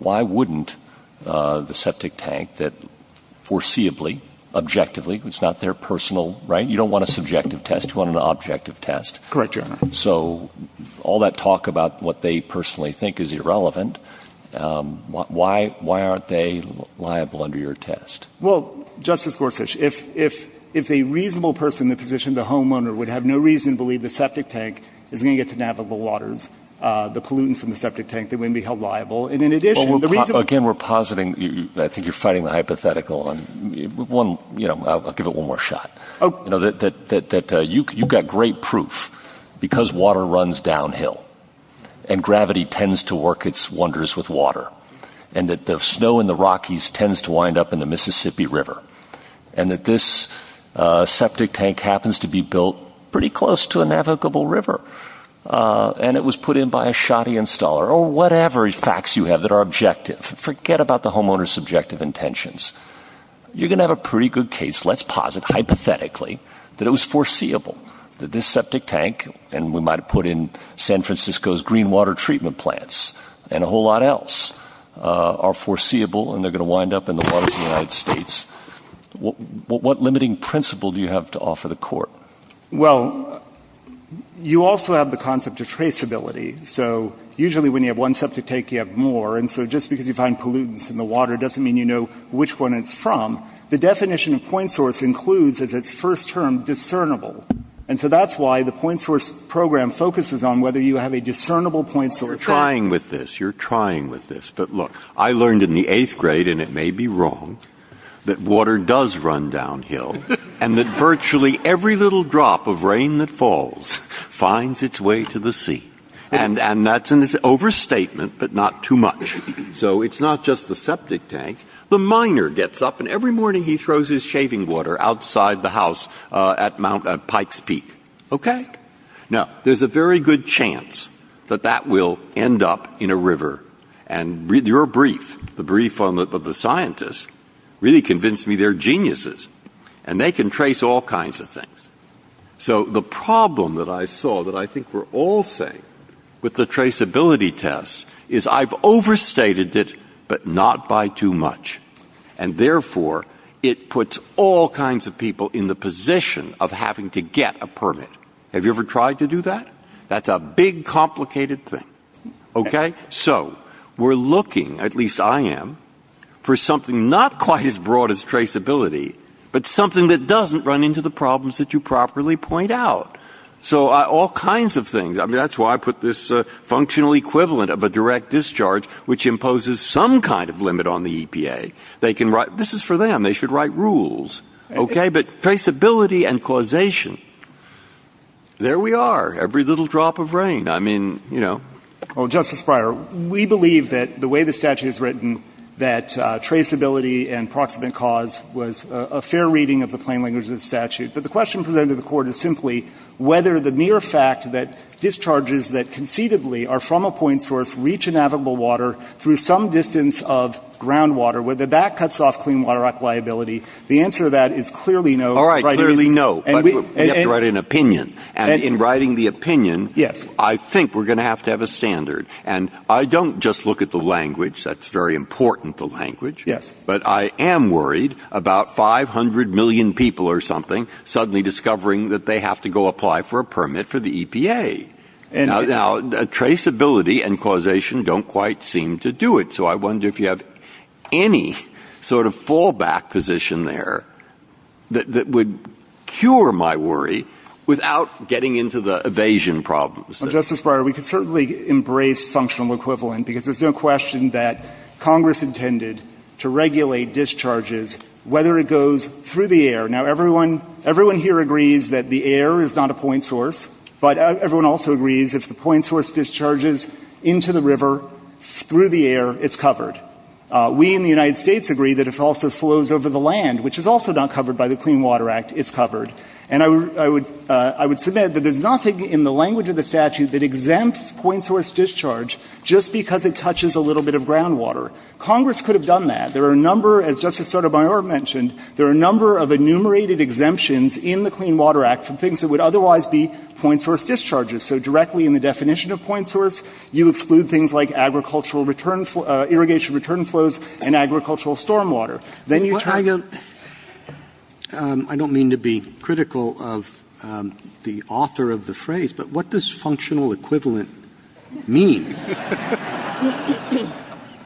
why wouldn't the septic tank that foreseeably, objectively — it's not their personal, right? You don't want a subjective test. You want an objective test. Correct, Your Honor. So all that talk about what they personally think is irrelevant, why aren't they liable under your test? Well, Justice Gorsuch, if a reasonable person in the position of the homeowner would have no reason to believe the septic tank is going to get to navigable waters, the pollutants from the septic tank, they wouldn't be held liable. And in addition, the reason — Well, again, we're positing — I think you're fighting the hypothetical. One — you know, I'll give it one more shot. Oh. You know, that you've got great proof because water runs downhill and gravity tends to work its wonders with water and that the snow in the Rockies tends to wind up in the Mississippi River and that this septic tank happens to be built pretty close to a navigable river. And it was put in by a shoddy installer or whatever facts you have that are objective. Forget about the homeowner's subjective intentions. You're going to have a pretty good case. Let's posit hypothetically that it was foreseeable that this septic tank — and we might have put in San Francisco's green water treatment plants and a whole lot else — are foreseeable and they're going to wind up in the waters of the United States. What limiting principle do you have to offer the Court? Well, you also have the concept of traceability. So usually when you have one septic tank, you have more. And so just because you find pollutants in the water doesn't mean you know which one it's from. The definition of point source includes, as its first term, discernible. And so that's why the point source program focuses on whether you have a discernible point source. You're trying with this. You're trying with this. But look, I learned in the eighth grade, and it may be wrong, that water does run downhill and that virtually every little drop of rain that falls finds its way to the sea. And that's an overstatement, but not too much. So it's not just the septic tank. The miner gets up and every morning he throws his shaving water outside the house at Mount — at Pike's Peak. Okay? Now, there's a very good chance that that will end up in a river. And your brief, the brief of the scientists, really convinced me they're geniuses and they can trace all kinds of things. So the problem that I saw that I think we're all seeing with the traceability test is I've overstated it, but not by too much. And therefore, it puts all kinds of people in the position of having to get a permit. Have you ever tried to do that? That's a big, complicated thing. Okay? So we're looking, at least I am, for something not quite as broad as traceability, but something that doesn't run into the problems that you properly point out. So all kinds of things. I mean, that's why I put this functional equivalent of a direct discharge, which imposes some kind of limit on the EPA. They can write — this is for them. They should write rules. Okay? But traceability and causation, there we are, every little drop of rain. I mean, you know. Well, Justice Breyer, we believe that the way the statute is written, that traceability and proximate cause was a fair reading of the plain language of the statute. But the question presented to the Court is simply whether the mere fact that discharges that concededly are from a point source reach inavitable water through some distance of groundwater, whether that cuts off clean water liability. The answer to that is clearly no. Breyer. All right. Clearly no. But we have to write an opinion. And in writing the opinion, I think we're going to have to have a standard. That's very important, the language. Yes. But I am worried about 500 million people or something suddenly discovering that they have to go apply for a permit for the EPA. Now, traceability and causation don't quite seem to do it. So I wonder if you have any sort of fallback position there that would cure my worry without getting into the evasion problems. Well, Justice Breyer, we could certainly embrace functional equivalent, because there's no question that Congress intended to regulate discharges whether it goes through the air. Now, everyone here agrees that the air is not a point source. But everyone also agrees if the point source discharges into the river through the air, it's covered. We in the United States agree that if it also flows over the land, which is also not covered by the Clean Water Act, it's covered. And I would submit that there's nothing in the language of the statute that exempts point source discharge just because it touches a little bit of groundwater. Congress could have done that. There are a number, as Justice Sotomayor mentioned, there are a number of enumerated exemptions in the Clean Water Act for things that would otherwise be point source discharges. So directly in the definition of point source, you exclude things like agricultural return – irrigation return flows and agricultural stormwater. Then you try to – I don't mean to be critical of the author of the phrase, but what does functional equivalent mean?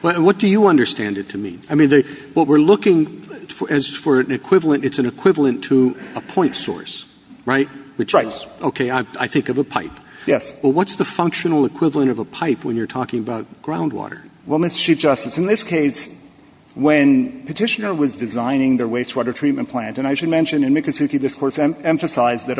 And what do you understand it to mean? I mean, what we're looking – as for an equivalent, it's an equivalent to a point source, right? Right. Okay. I think of a pipe. Yes. Well, what's the functional equivalent of a pipe when you're talking about groundwater? Well, Mr. Chief Justice, in this case, when Petitioner was designing their wastewater treatment plant – and I should mention in Mikosuke this Court emphasized that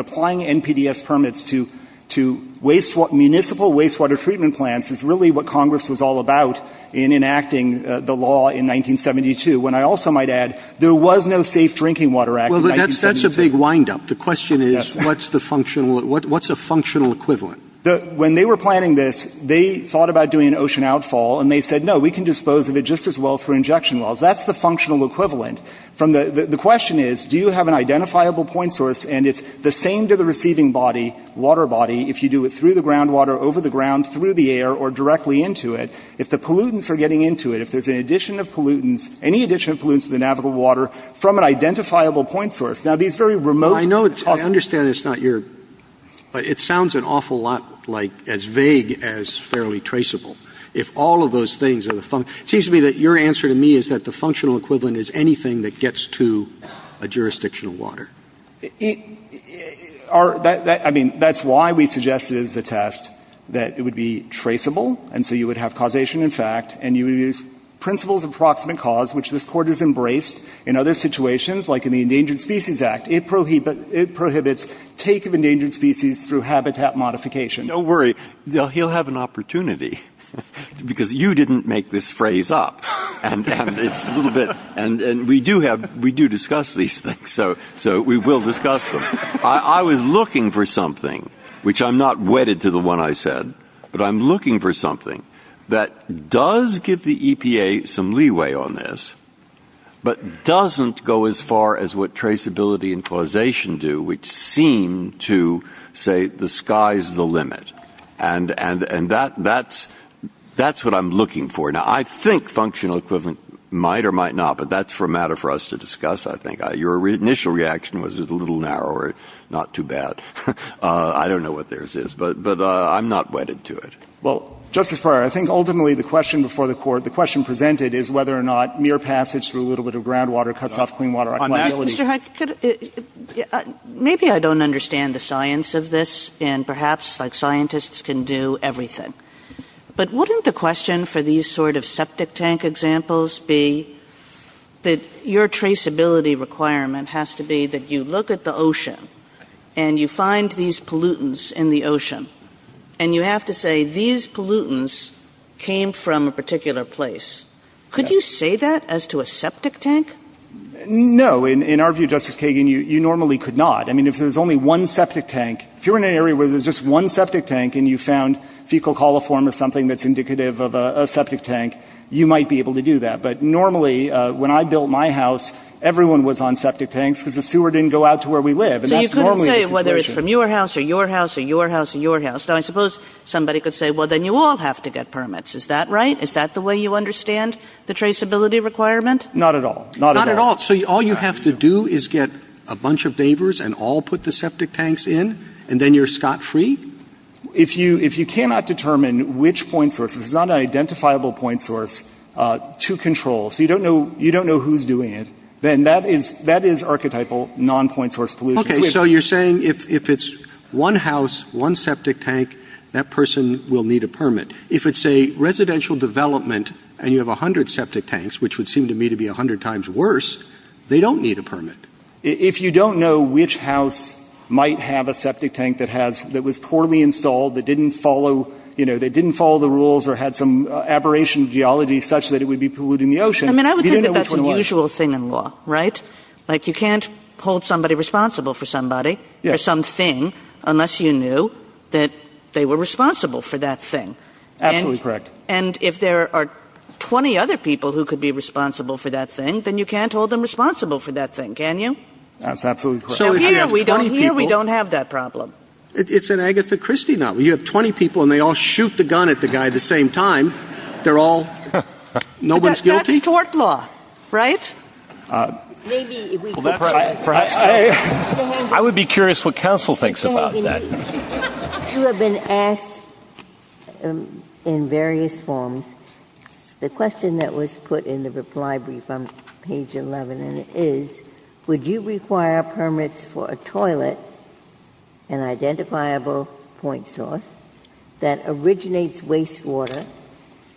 municipal wastewater treatment plants is really what Congress was all about in enacting the law in 1972, when I also might add there was no Safe Drinking Water Act in 1972. Well, but that's a big windup. The question is what's the functional – what's a functional equivalent? When they were planning this, they thought about doing an ocean outfall, and they said, no, we can dispose of it just as well through injection wells. That's the functional equivalent. The question is, do you have an identifiable point source, and it's the same to the groundwater, over the ground, through the air, or directly into it, if the pollutants are getting into it, if there's an addition of pollutants, any addition of pollutants to the navigable water from an identifiable point source? Now, these very remote – I know it's – I understand it's not your – it sounds an awful lot like as vague as fairly traceable. If all of those things are the – it seems to me that your answer to me is that the functional equivalent is anything that gets to a jurisdictional water. Our – I mean, that's why we suggested as the test that it would be traceable, and so you would have causation in fact, and you would use principles of approximate cause, which this Court has embraced in other situations, like in the Endangered Species Act. It prohibits take of endangered species through habitat modification. Don't worry. He'll have an opportunity, because you didn't make this phrase up, and it's a little bit – and we do have – we do discuss these things. So we will discuss them. I was looking for something, which I'm not wedded to the one I said, but I'm looking for something that does give the EPA some leeway on this, but doesn't go as far as what traceability and causation do, which seem to say the sky's the limit. And that's what I'm looking for. Now, I think functional equivalent might or might not, but that's for a matter for us to discuss, I think. Your initial reaction was it's a little narrower, not too bad. I don't know what theirs is, but I'm not wedded to it. Well, Justice Breyer, I think ultimately the question before the Court, the question presented is whether or not mere passage through a little bit of groundwater cuts off clean water. Mr. Huck, maybe I don't understand the science of this, and perhaps like scientists can do everything. But wouldn't the question for these sort of septic tank examples be that your traceability requirement has to be that you look at the ocean and you find these pollutants in the ocean, and you have to say these pollutants came from a particular place. Could you say that as to a septic tank? No. In our view, Justice Kagan, you normally could not. I mean, if there's only one septic tank, if you're in an area where there's just one septic tank and you found fecal coliform or something that's indicative of a septic tank, you might be able to do that. But normally, when I built my house, everyone was on septic tanks because the sewer didn't go out to where we live. And that's normally the situation. So you couldn't say whether it's from your house or your house or your house or your house. Now, I suppose somebody could say, well, then you all have to get permits. Is that right? Is that the way you understand the traceability requirement? Not at all. Not at all. Not at all. So all you have to do is get a bunch of neighbors and all put the septic tanks in, and then you're scot-free? If you cannot determine which point source, if it's not an identifiable point source to control, so you don't know who's doing it, then that is archetypal non-point source pollution. Okay. So you're saying if it's one house, one septic tank, that person will need a permit. If it's a residential development and you have 100 septic tanks, which would seem to me to be 100 times worse, they don't need a permit. If you don't know which house might have a septic tank that was poorly installed, that didn't follow, you know, that didn't follow the rules or had some aberration geology such that it would be polluting the ocean, you don't know which one it was. I mean, I would think that that's an usual thing in law, right? Like, you can't hold somebody responsible for somebody or something unless you knew that they were responsible for that thing. Absolutely correct. And if there are 20 other people who could be responsible for that thing, then you can't hold them responsible for that thing, can you? That's absolutely correct. Now, here we don't have that problem. It's an Agatha Christie novel. You have 20 people and they all shoot the gun at the guy at the same time. They're all no one's guilty? That's court law, right? Maybe. I would be curious what counsel thinks about that. You have been asked in various forms. The question that was put in the reply brief on page 11 is, would you require permits for a toilet, an identifiable point source that originates wastewater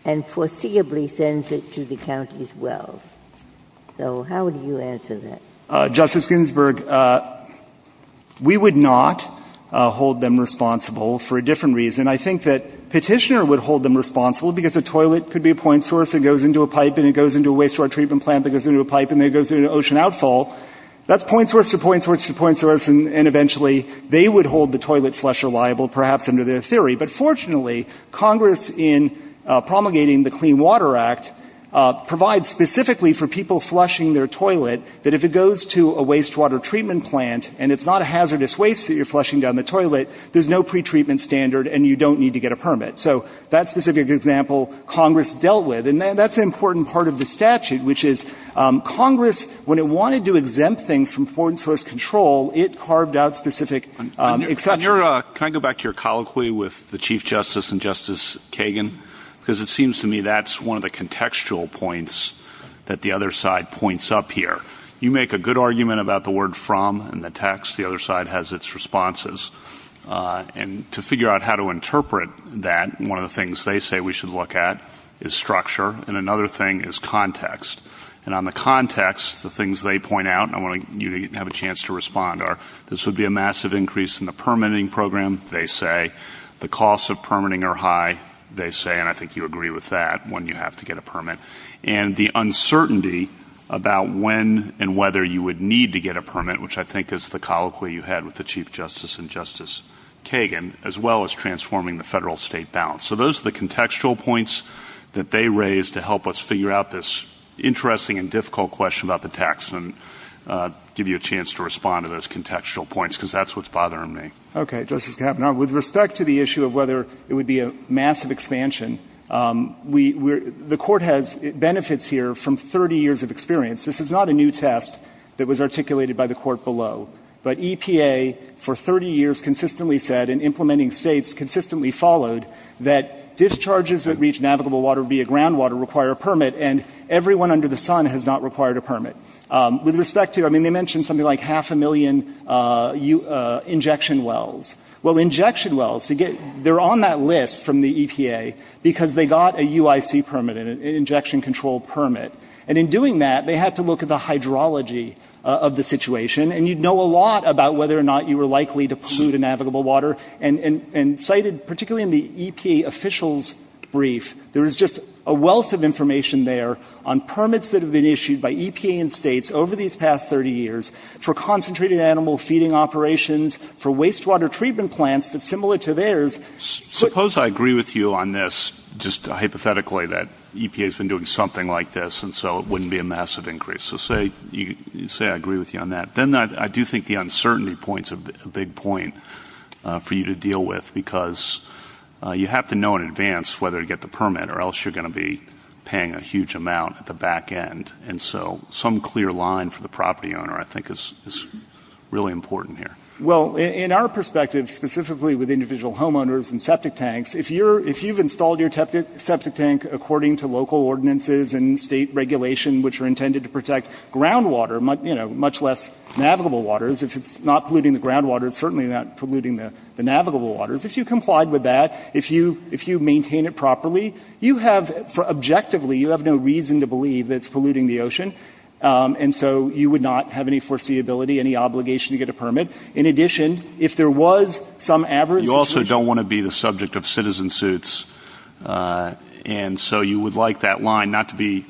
and foreseeably sends it to the county's wells? So how would you answer that? Justice Ginsburg, we would not hold them responsible for a different reason. I think that Petitioner would hold them responsible because a toilet could be a point source. It goes into a pipe and it goes into a wastewater treatment plant that goes into a pipe and then it goes into an ocean outfall. That's point source to point source to point source and eventually they would hold the toilet flush reliable, perhaps under their theory. But fortunately, Congress in promulgating the Clean Water Act provides specifically for people flushing their toilet that if it goes to a wastewater treatment plant and it's not a hazardous waste that you're flushing down the toilet, there's no pretreatment standard and you don't need to get a permit. So that specific example, Congress dealt with. And that's an important part of the statute, which is Congress, when it wanted to exempt things from point source control, it carved out specific exceptions. Can I go back to your colloquy with the Chief Justice and Justice Kagan? Because it seems to me that's one of the contextual points that the other side points up here. You make a good argument about the word from in the text. The other side has its responses. And to figure out how to interpret that, one of the things they say we should look at is structure. And another thing is context. And on the context, the things they point out, and I want you to have a chance to respond, are this would be a massive increase in the permitting program, they say. The costs of permitting are high, they say. And I think you agree with that when you have to get a permit. And the uncertainty about when and whether you would need to get a permit, which I think is the colloquy you had with the Chief Justice and Justice Kagan, as well as transforming the federal-state balance. So those are the contextual points that they raise to help us figure out this interesting and difficult question about the text. And I'll give you a chance to respond to those contextual points, because that's what's bothering me. Okay. Justice Kavanaugh, with respect to the issue of whether it would be a massive expansion, the Court has benefits here from 30 years of experience. This is not a new test that was articulated by the Court below. But EPA for 30 years consistently said, and implementing states consistently followed, that discharges that reach navigable water via groundwater require a permit, and everyone under the sun has not required a permit. With respect to, I mean, they mentioned something like half a million injection wells. Well, injection wells, they're on that list from the EPA because they got a UIC permit, an injection-controlled permit. And in doing that, they had to look at the hydrology of the situation. And you'd know a lot about whether or not you were likely to pollute a navigable water. And cited particularly in the EPA official's brief, there is just a wealth of information there on permits that have been issued by EPA and states over these past 30 years for concentrated animal feeding operations, for wastewater treatment plants that's similar to theirs. Suppose I agree with you on this, just hypothetically, that EPA has been doing something like this, and so it wouldn't be a massive increase. So say I agree with you on that. Then I do think the uncertainty point is a big point for you to deal with, because you have to know in advance whether to get the permit or else you're going to be paying a huge amount at the back end. And so some clear line for the property owner, I think, is really important here. Well, in our perspective, specifically with individual homeowners and septic tanks, if you've installed your septic tank according to local ordinances and state regulation which are intended to protect groundwater, you know, much less navigable waters, if it's not polluting the groundwater, it's certainly not polluting the navigable waters. If you complied with that, if you maintain it properly, you have, objectively, you have no reason to believe that it's polluting the ocean. And so you would not have any foreseeability, any obligation to get a permit. In addition, if there was some average situation ---- You also don't want to be the subject of citizen suits. And so you would like that line not to be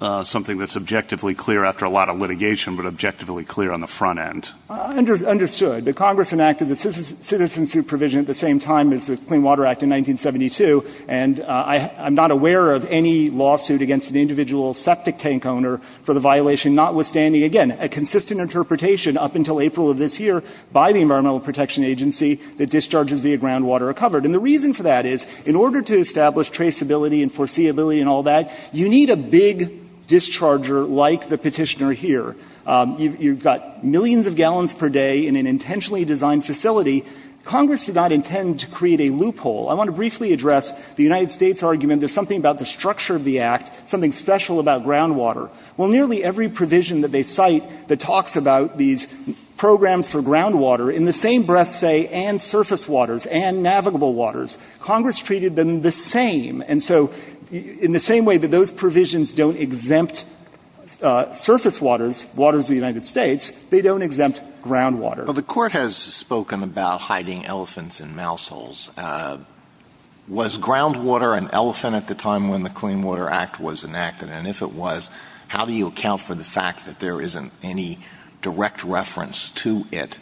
something that's objectively clear after a lot of litigation, but objectively clear on the front end. Understood. The Congress enacted the Citizen Suit provision at the same time as the Clean Water Act in 1972, and I'm not aware of any lawsuit against an individual septic tank owner for the violation notwithstanding, again, a consistent interpretation up until April of this year by the Environmental Protection Agency that discharges via groundwater are covered. And the reason for that is, in order to establish traceability and foreseeability and all that, you need a big discharger like the Petitioner here. You've got millions of gallons per day in an intentionally designed facility. Congress did not intend to create a loophole. I want to briefly address the United States' argument that there's something about the structure of the Act, something special about groundwater. Well, nearly every provision that they cite that talks about these programs for Congress treated them the same. And so in the same way that those provisions don't exempt surface waters, waters of the United States, they don't exempt groundwater. Alitoson The Court has spoken about hiding elephants in mouse holes. Was groundwater an elephant at the time when the Clean Water Act was enacted? And if it was, how do you account for the fact that there isn't any direct reference to it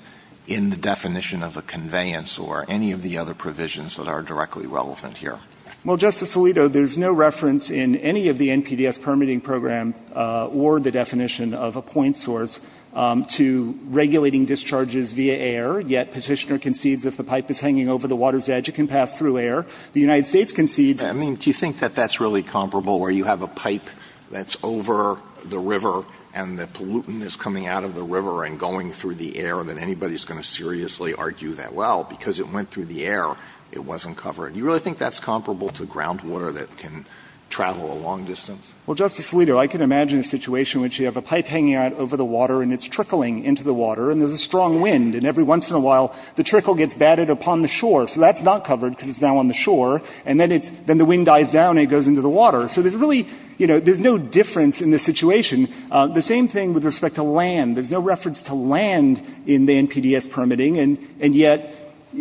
in the definition of a conveyance or any of the other provisions that are directly relevant here? Well, Justice Alito, there's no reference in any of the NPDES permitting program or the definition of a point source to regulating discharges via air. Yet Petitioner concedes if the pipe is hanging over the water's edge, it can pass through air. The United States concedes. I mean, do you think that that's really comparable, where you have a pipe that's over the river and the pollutant is coming out of the river and going through the air, that anybody's going to seriously argue that, well, because it went through the air, it wasn't covered? Do you really think that's comparable to groundwater that can travel a long distance? Well, Justice Alito, I can imagine a situation in which you have a pipe hanging out over the water and it's trickling into the water. And there's a strong wind. And every once in a while, the trickle gets batted upon the shore. So that's not covered because it's now on the shore. And then it's — then the wind dies down and it goes into the water. So there's really, you know, there's no difference in this situation. The same thing with respect to land. There's no reference to land in the NPDES permitting. And yet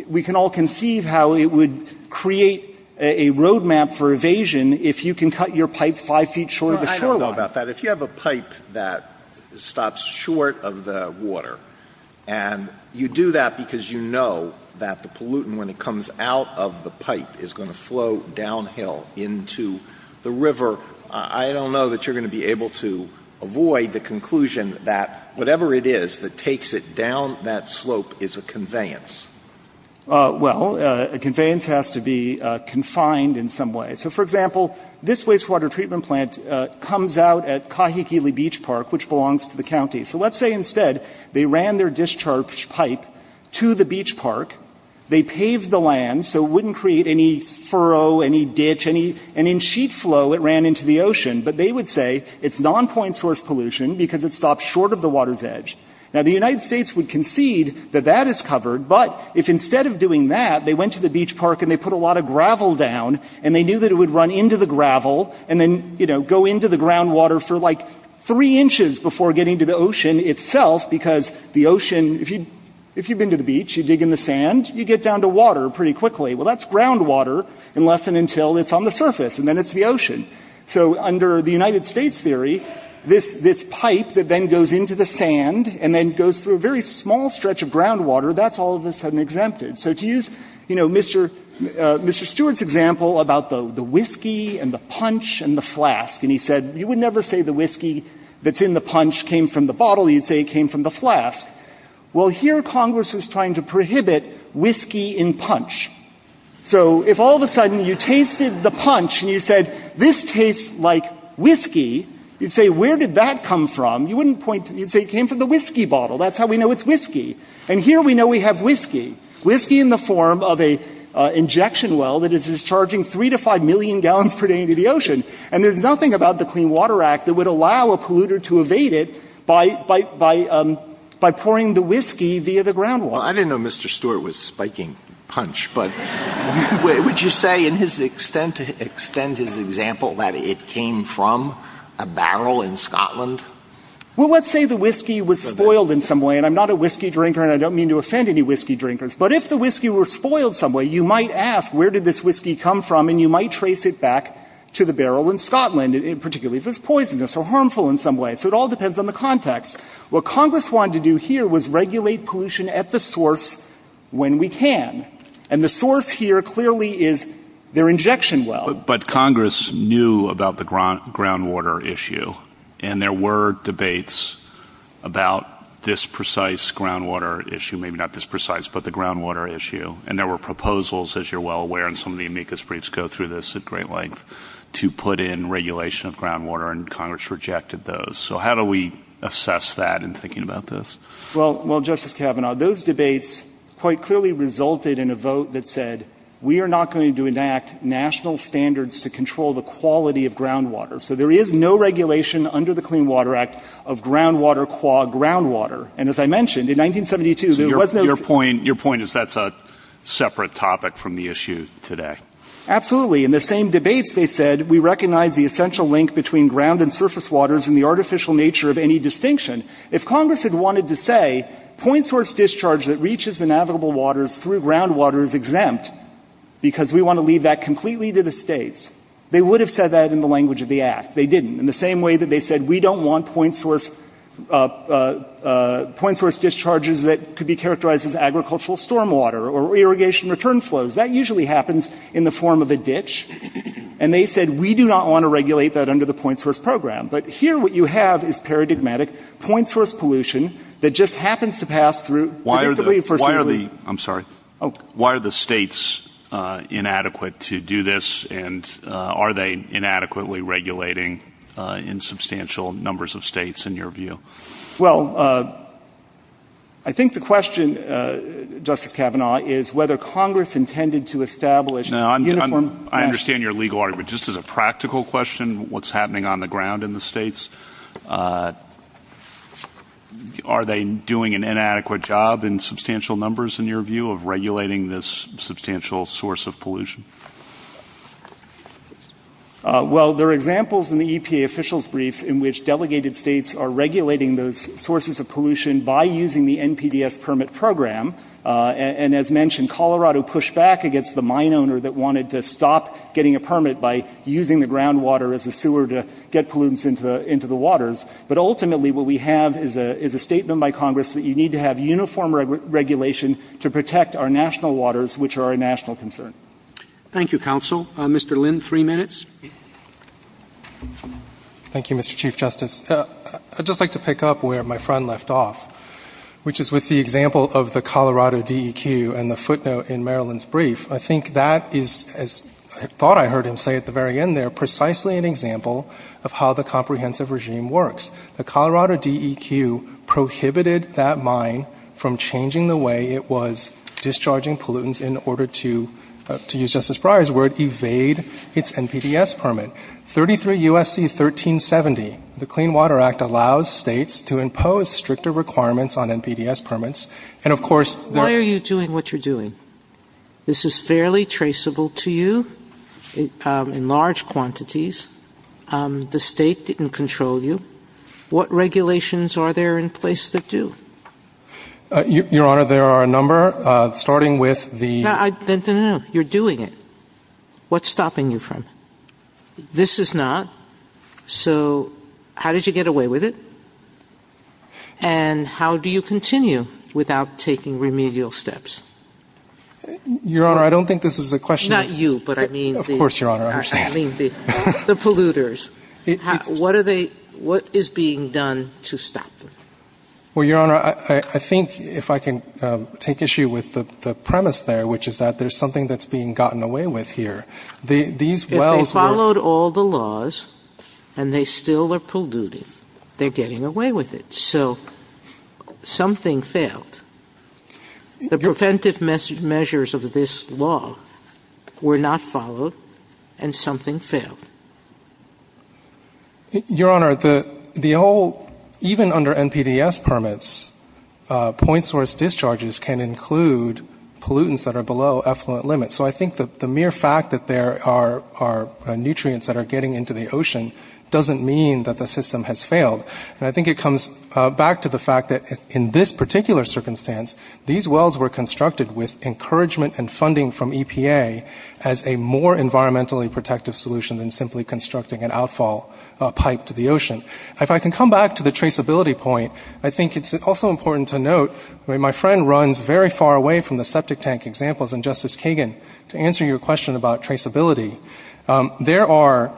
we can all conceive how it would create a road map for evasion if you can cut your pipe 5 feet short of the shoreline. Well, I don't know about that. If you have a pipe that stops short of the water, and you do that because you know that the pollutant, when it comes out of the pipe, is going to flow downhill into the river, I don't know that you're going to be able to avoid the conclusion that whatever it is that takes it down that slope is a conveyance. Well, a conveyance has to be confined in some way. So, for example, this wastewater treatment plant comes out at Kahikili Beach Park, which belongs to the county. So let's say instead they ran their discharge pipe to the beach park, they paved the land so it wouldn't create any furrow, any ditch, and in sheet flow it ran into the ocean. But they would say it's non-point source pollution because it stops short of the water's edge. Now, the United States would concede that that is covered. But if instead of doing that, they went to the beach park and they put a lot of gravel down, and they knew that it would run into the gravel and then, you know, go into the groundwater for like three inches before getting to the ocean itself because the ocean, if you've been to the beach, you dig in the sand, you get down to water pretty quickly. Well, that's groundwater unless and until it's on the surface and then it's the ocean. So under the United States theory, this pipe that then goes into the sand and then goes through a very small stretch of groundwater, that's all of a sudden exempted. So to use, you know, Mr. Stewart's example about the whiskey and the punch and the flask. And he said, you would never say the whiskey that's in the punch came from the bottle. You'd say it came from the flask. Well, here Congress was trying to prohibit whiskey in punch. So if all of a sudden you tasted the punch and you said, this tastes like whiskey, you'd say, where did that come from? You wouldn't point to, you'd say it came from the whiskey bottle. That's how we know it's whiskey. And here we know we have whiskey. Whiskey in the form of an injection well that is discharging three to five million gallons per day into the ocean. And there's nothing about the Clean Water Act that would allow a polluter to evade it by pouring the whiskey via the groundwater. Well, I didn't know Mr. Stewart was spiking punch. But would you say in his extent, to extend his example, that it came from a barrel in Scotland? Well, let's say the whiskey was spoiled in some way. And I'm not a whiskey drinker and I don't mean to offend any whiskey drinkers. But if the whiskey were spoiled some way, you might ask, where did this whiskey come from? And you might trace it back to the barrel in Scotland, particularly if it was poisonous or harmful in some way. So it all depends on the context. What Congress wanted to do here was regulate pollution at the source when we can. And the source here clearly is their injection well. But Congress knew about the groundwater issue. And there were debates about this precise groundwater issue. Maybe not this precise, but the groundwater issue. And there were proposals, as you're well aware, and some of the amicus briefs go through this at great length, to put in regulation of groundwater. And Congress rejected those. So how do we assess that in thinking about this? Well, Justice Kavanaugh, those debates quite clearly resulted in a vote that said, we are not going to enact national standards to control the quality of groundwater. So there is no regulation under the Clean Water Act of groundwater qua groundwater. And as I mentioned, in 1972, there was no ---- Your point is that's a separate topic from the issue today. Absolutely. In the same debates, they said, we recognize the essential link between ground and surface waters and the artificial nature of any distinction. If Congress had wanted to say point source discharge that reaches the navigable waters through groundwater is exempt because we want to leave that completely to the states, they would have said that in the language of the Act. They didn't. In the same way that they said we don't want point source discharges that could be characterized as agricultural stormwater or irrigation return flows. That usually happens in the form of a ditch. And they said, we do not want to regulate that under the point source program. But here what you have is paradigmatic point source pollution that just happens to pass through ---- Why are the ---- I'm sorry. Oh. Why are the states inadequate to do this? And are they inadequately regulating in substantial numbers of states, in your view? Well, I think the question, Justice Kavanaugh, is whether Congress intended to establish uniform ---- No. I understand your legal argument. But just as a practical question, what's happening on the ground in the states, are they doing an inadequate job in substantial numbers, in your view, of regulating this substantial source of pollution? Well, there are examples in the EPA officials' brief in which delegated states are regulating those sources of pollution by using the NPDES permit program. And as mentioned, Colorado pushed back against the mine owner that wanted to stop getting a permit by using the groundwater as a sewer to get pollutants into the waters. But ultimately what we have is a statement by Congress that you need to have uniform regulation to protect our national waters, which are a national concern. Thank you, counsel. Mr. Lynn, three minutes. Thank you, Mr. Chief Justice. I'd just like to pick up where my friend left off, which is with the example of the Colorado DEQ and the footnote in Maryland's brief. I think that is, as I thought I heard him say at the very end there, precisely an example of how the comprehensive regime works. The Colorado DEQ prohibited that mine from changing the way it was discharging pollutants in order to, to use Justice Breyer's word, evade its NPDES permit. I think that's a good point. 33 U.S.C. 1370, the Clean Water Act allows states to impose stricter requirements on NPDES permits. And, of course, there are Why are you doing what you're doing? This is fairly traceable to you in large quantities. The state didn't control you. What regulations are there in place that do? Your Honor, there are a number, starting with the No, no, no. You're doing it. What's stopping you from? This is not. So how did you get away with it? And how do you continue without taking remedial steps? Your Honor, I don't think this is a question Not you, but I mean Of course, Your Honor, I understand. I mean the polluters. What are they, what is being done to stop them? Well, Your Honor, I think if I can take issue with the premise there, which is that there's something that's being gotten away with here. These wells If they followed all the laws and they still are polluting, they're getting away with it. So something failed. The preventive measures of this law were not followed and something failed. Your Honor, the whole, even under NPDES permits, point source discharges can include pollutants that are below effluent limits. So I think the mere fact that there are nutrients that are getting into the ocean doesn't mean that the system has failed. And I think it comes back to the fact that in this particular circumstance, these wells were constructed with encouragement and funding from EPA as a more environmentally protective solution than simply constructing an outfall pipe to the ocean. If I can come back to the traceability point, I think it's also important to note, I mean, my friend runs very far away from the septic tank examples. And Justice Kagan, to answer your question about traceability, there are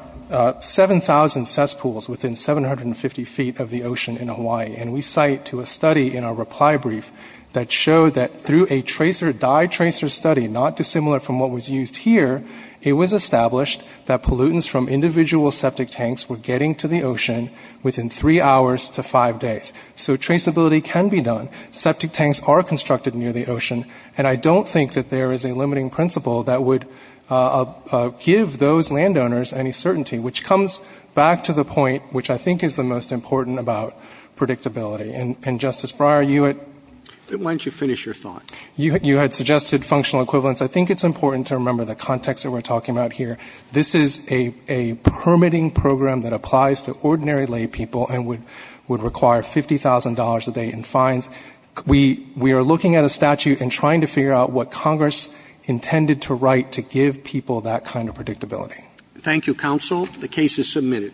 7,000 cesspools within 750 feet of the ocean in Hawaii. And we cite to a study in our reply brief that showed that through a dye tracer study, not dissimilar from what was used here, it was established that pollutants from individual septic tanks were getting to the ocean within three hours to five days. So traceability can be done. Septic tanks are constructed near the ocean. And I don't think that there is a limiting principle that would give those landowners any certainty, which comes back to the point which I think is the most important about predictability. And, Justice Breyer, you had — Why don't you finish your thought? You had suggested functional equivalence. I think it's important to remember the context that we're talking about here. This is a permitting program that applies to ordinary laypeople and would require $50,000 a day in fines. We are looking at a statute and trying to figure out what Congress intended to write to give people that kind of predictability. Thank you, counsel. The case is submitted.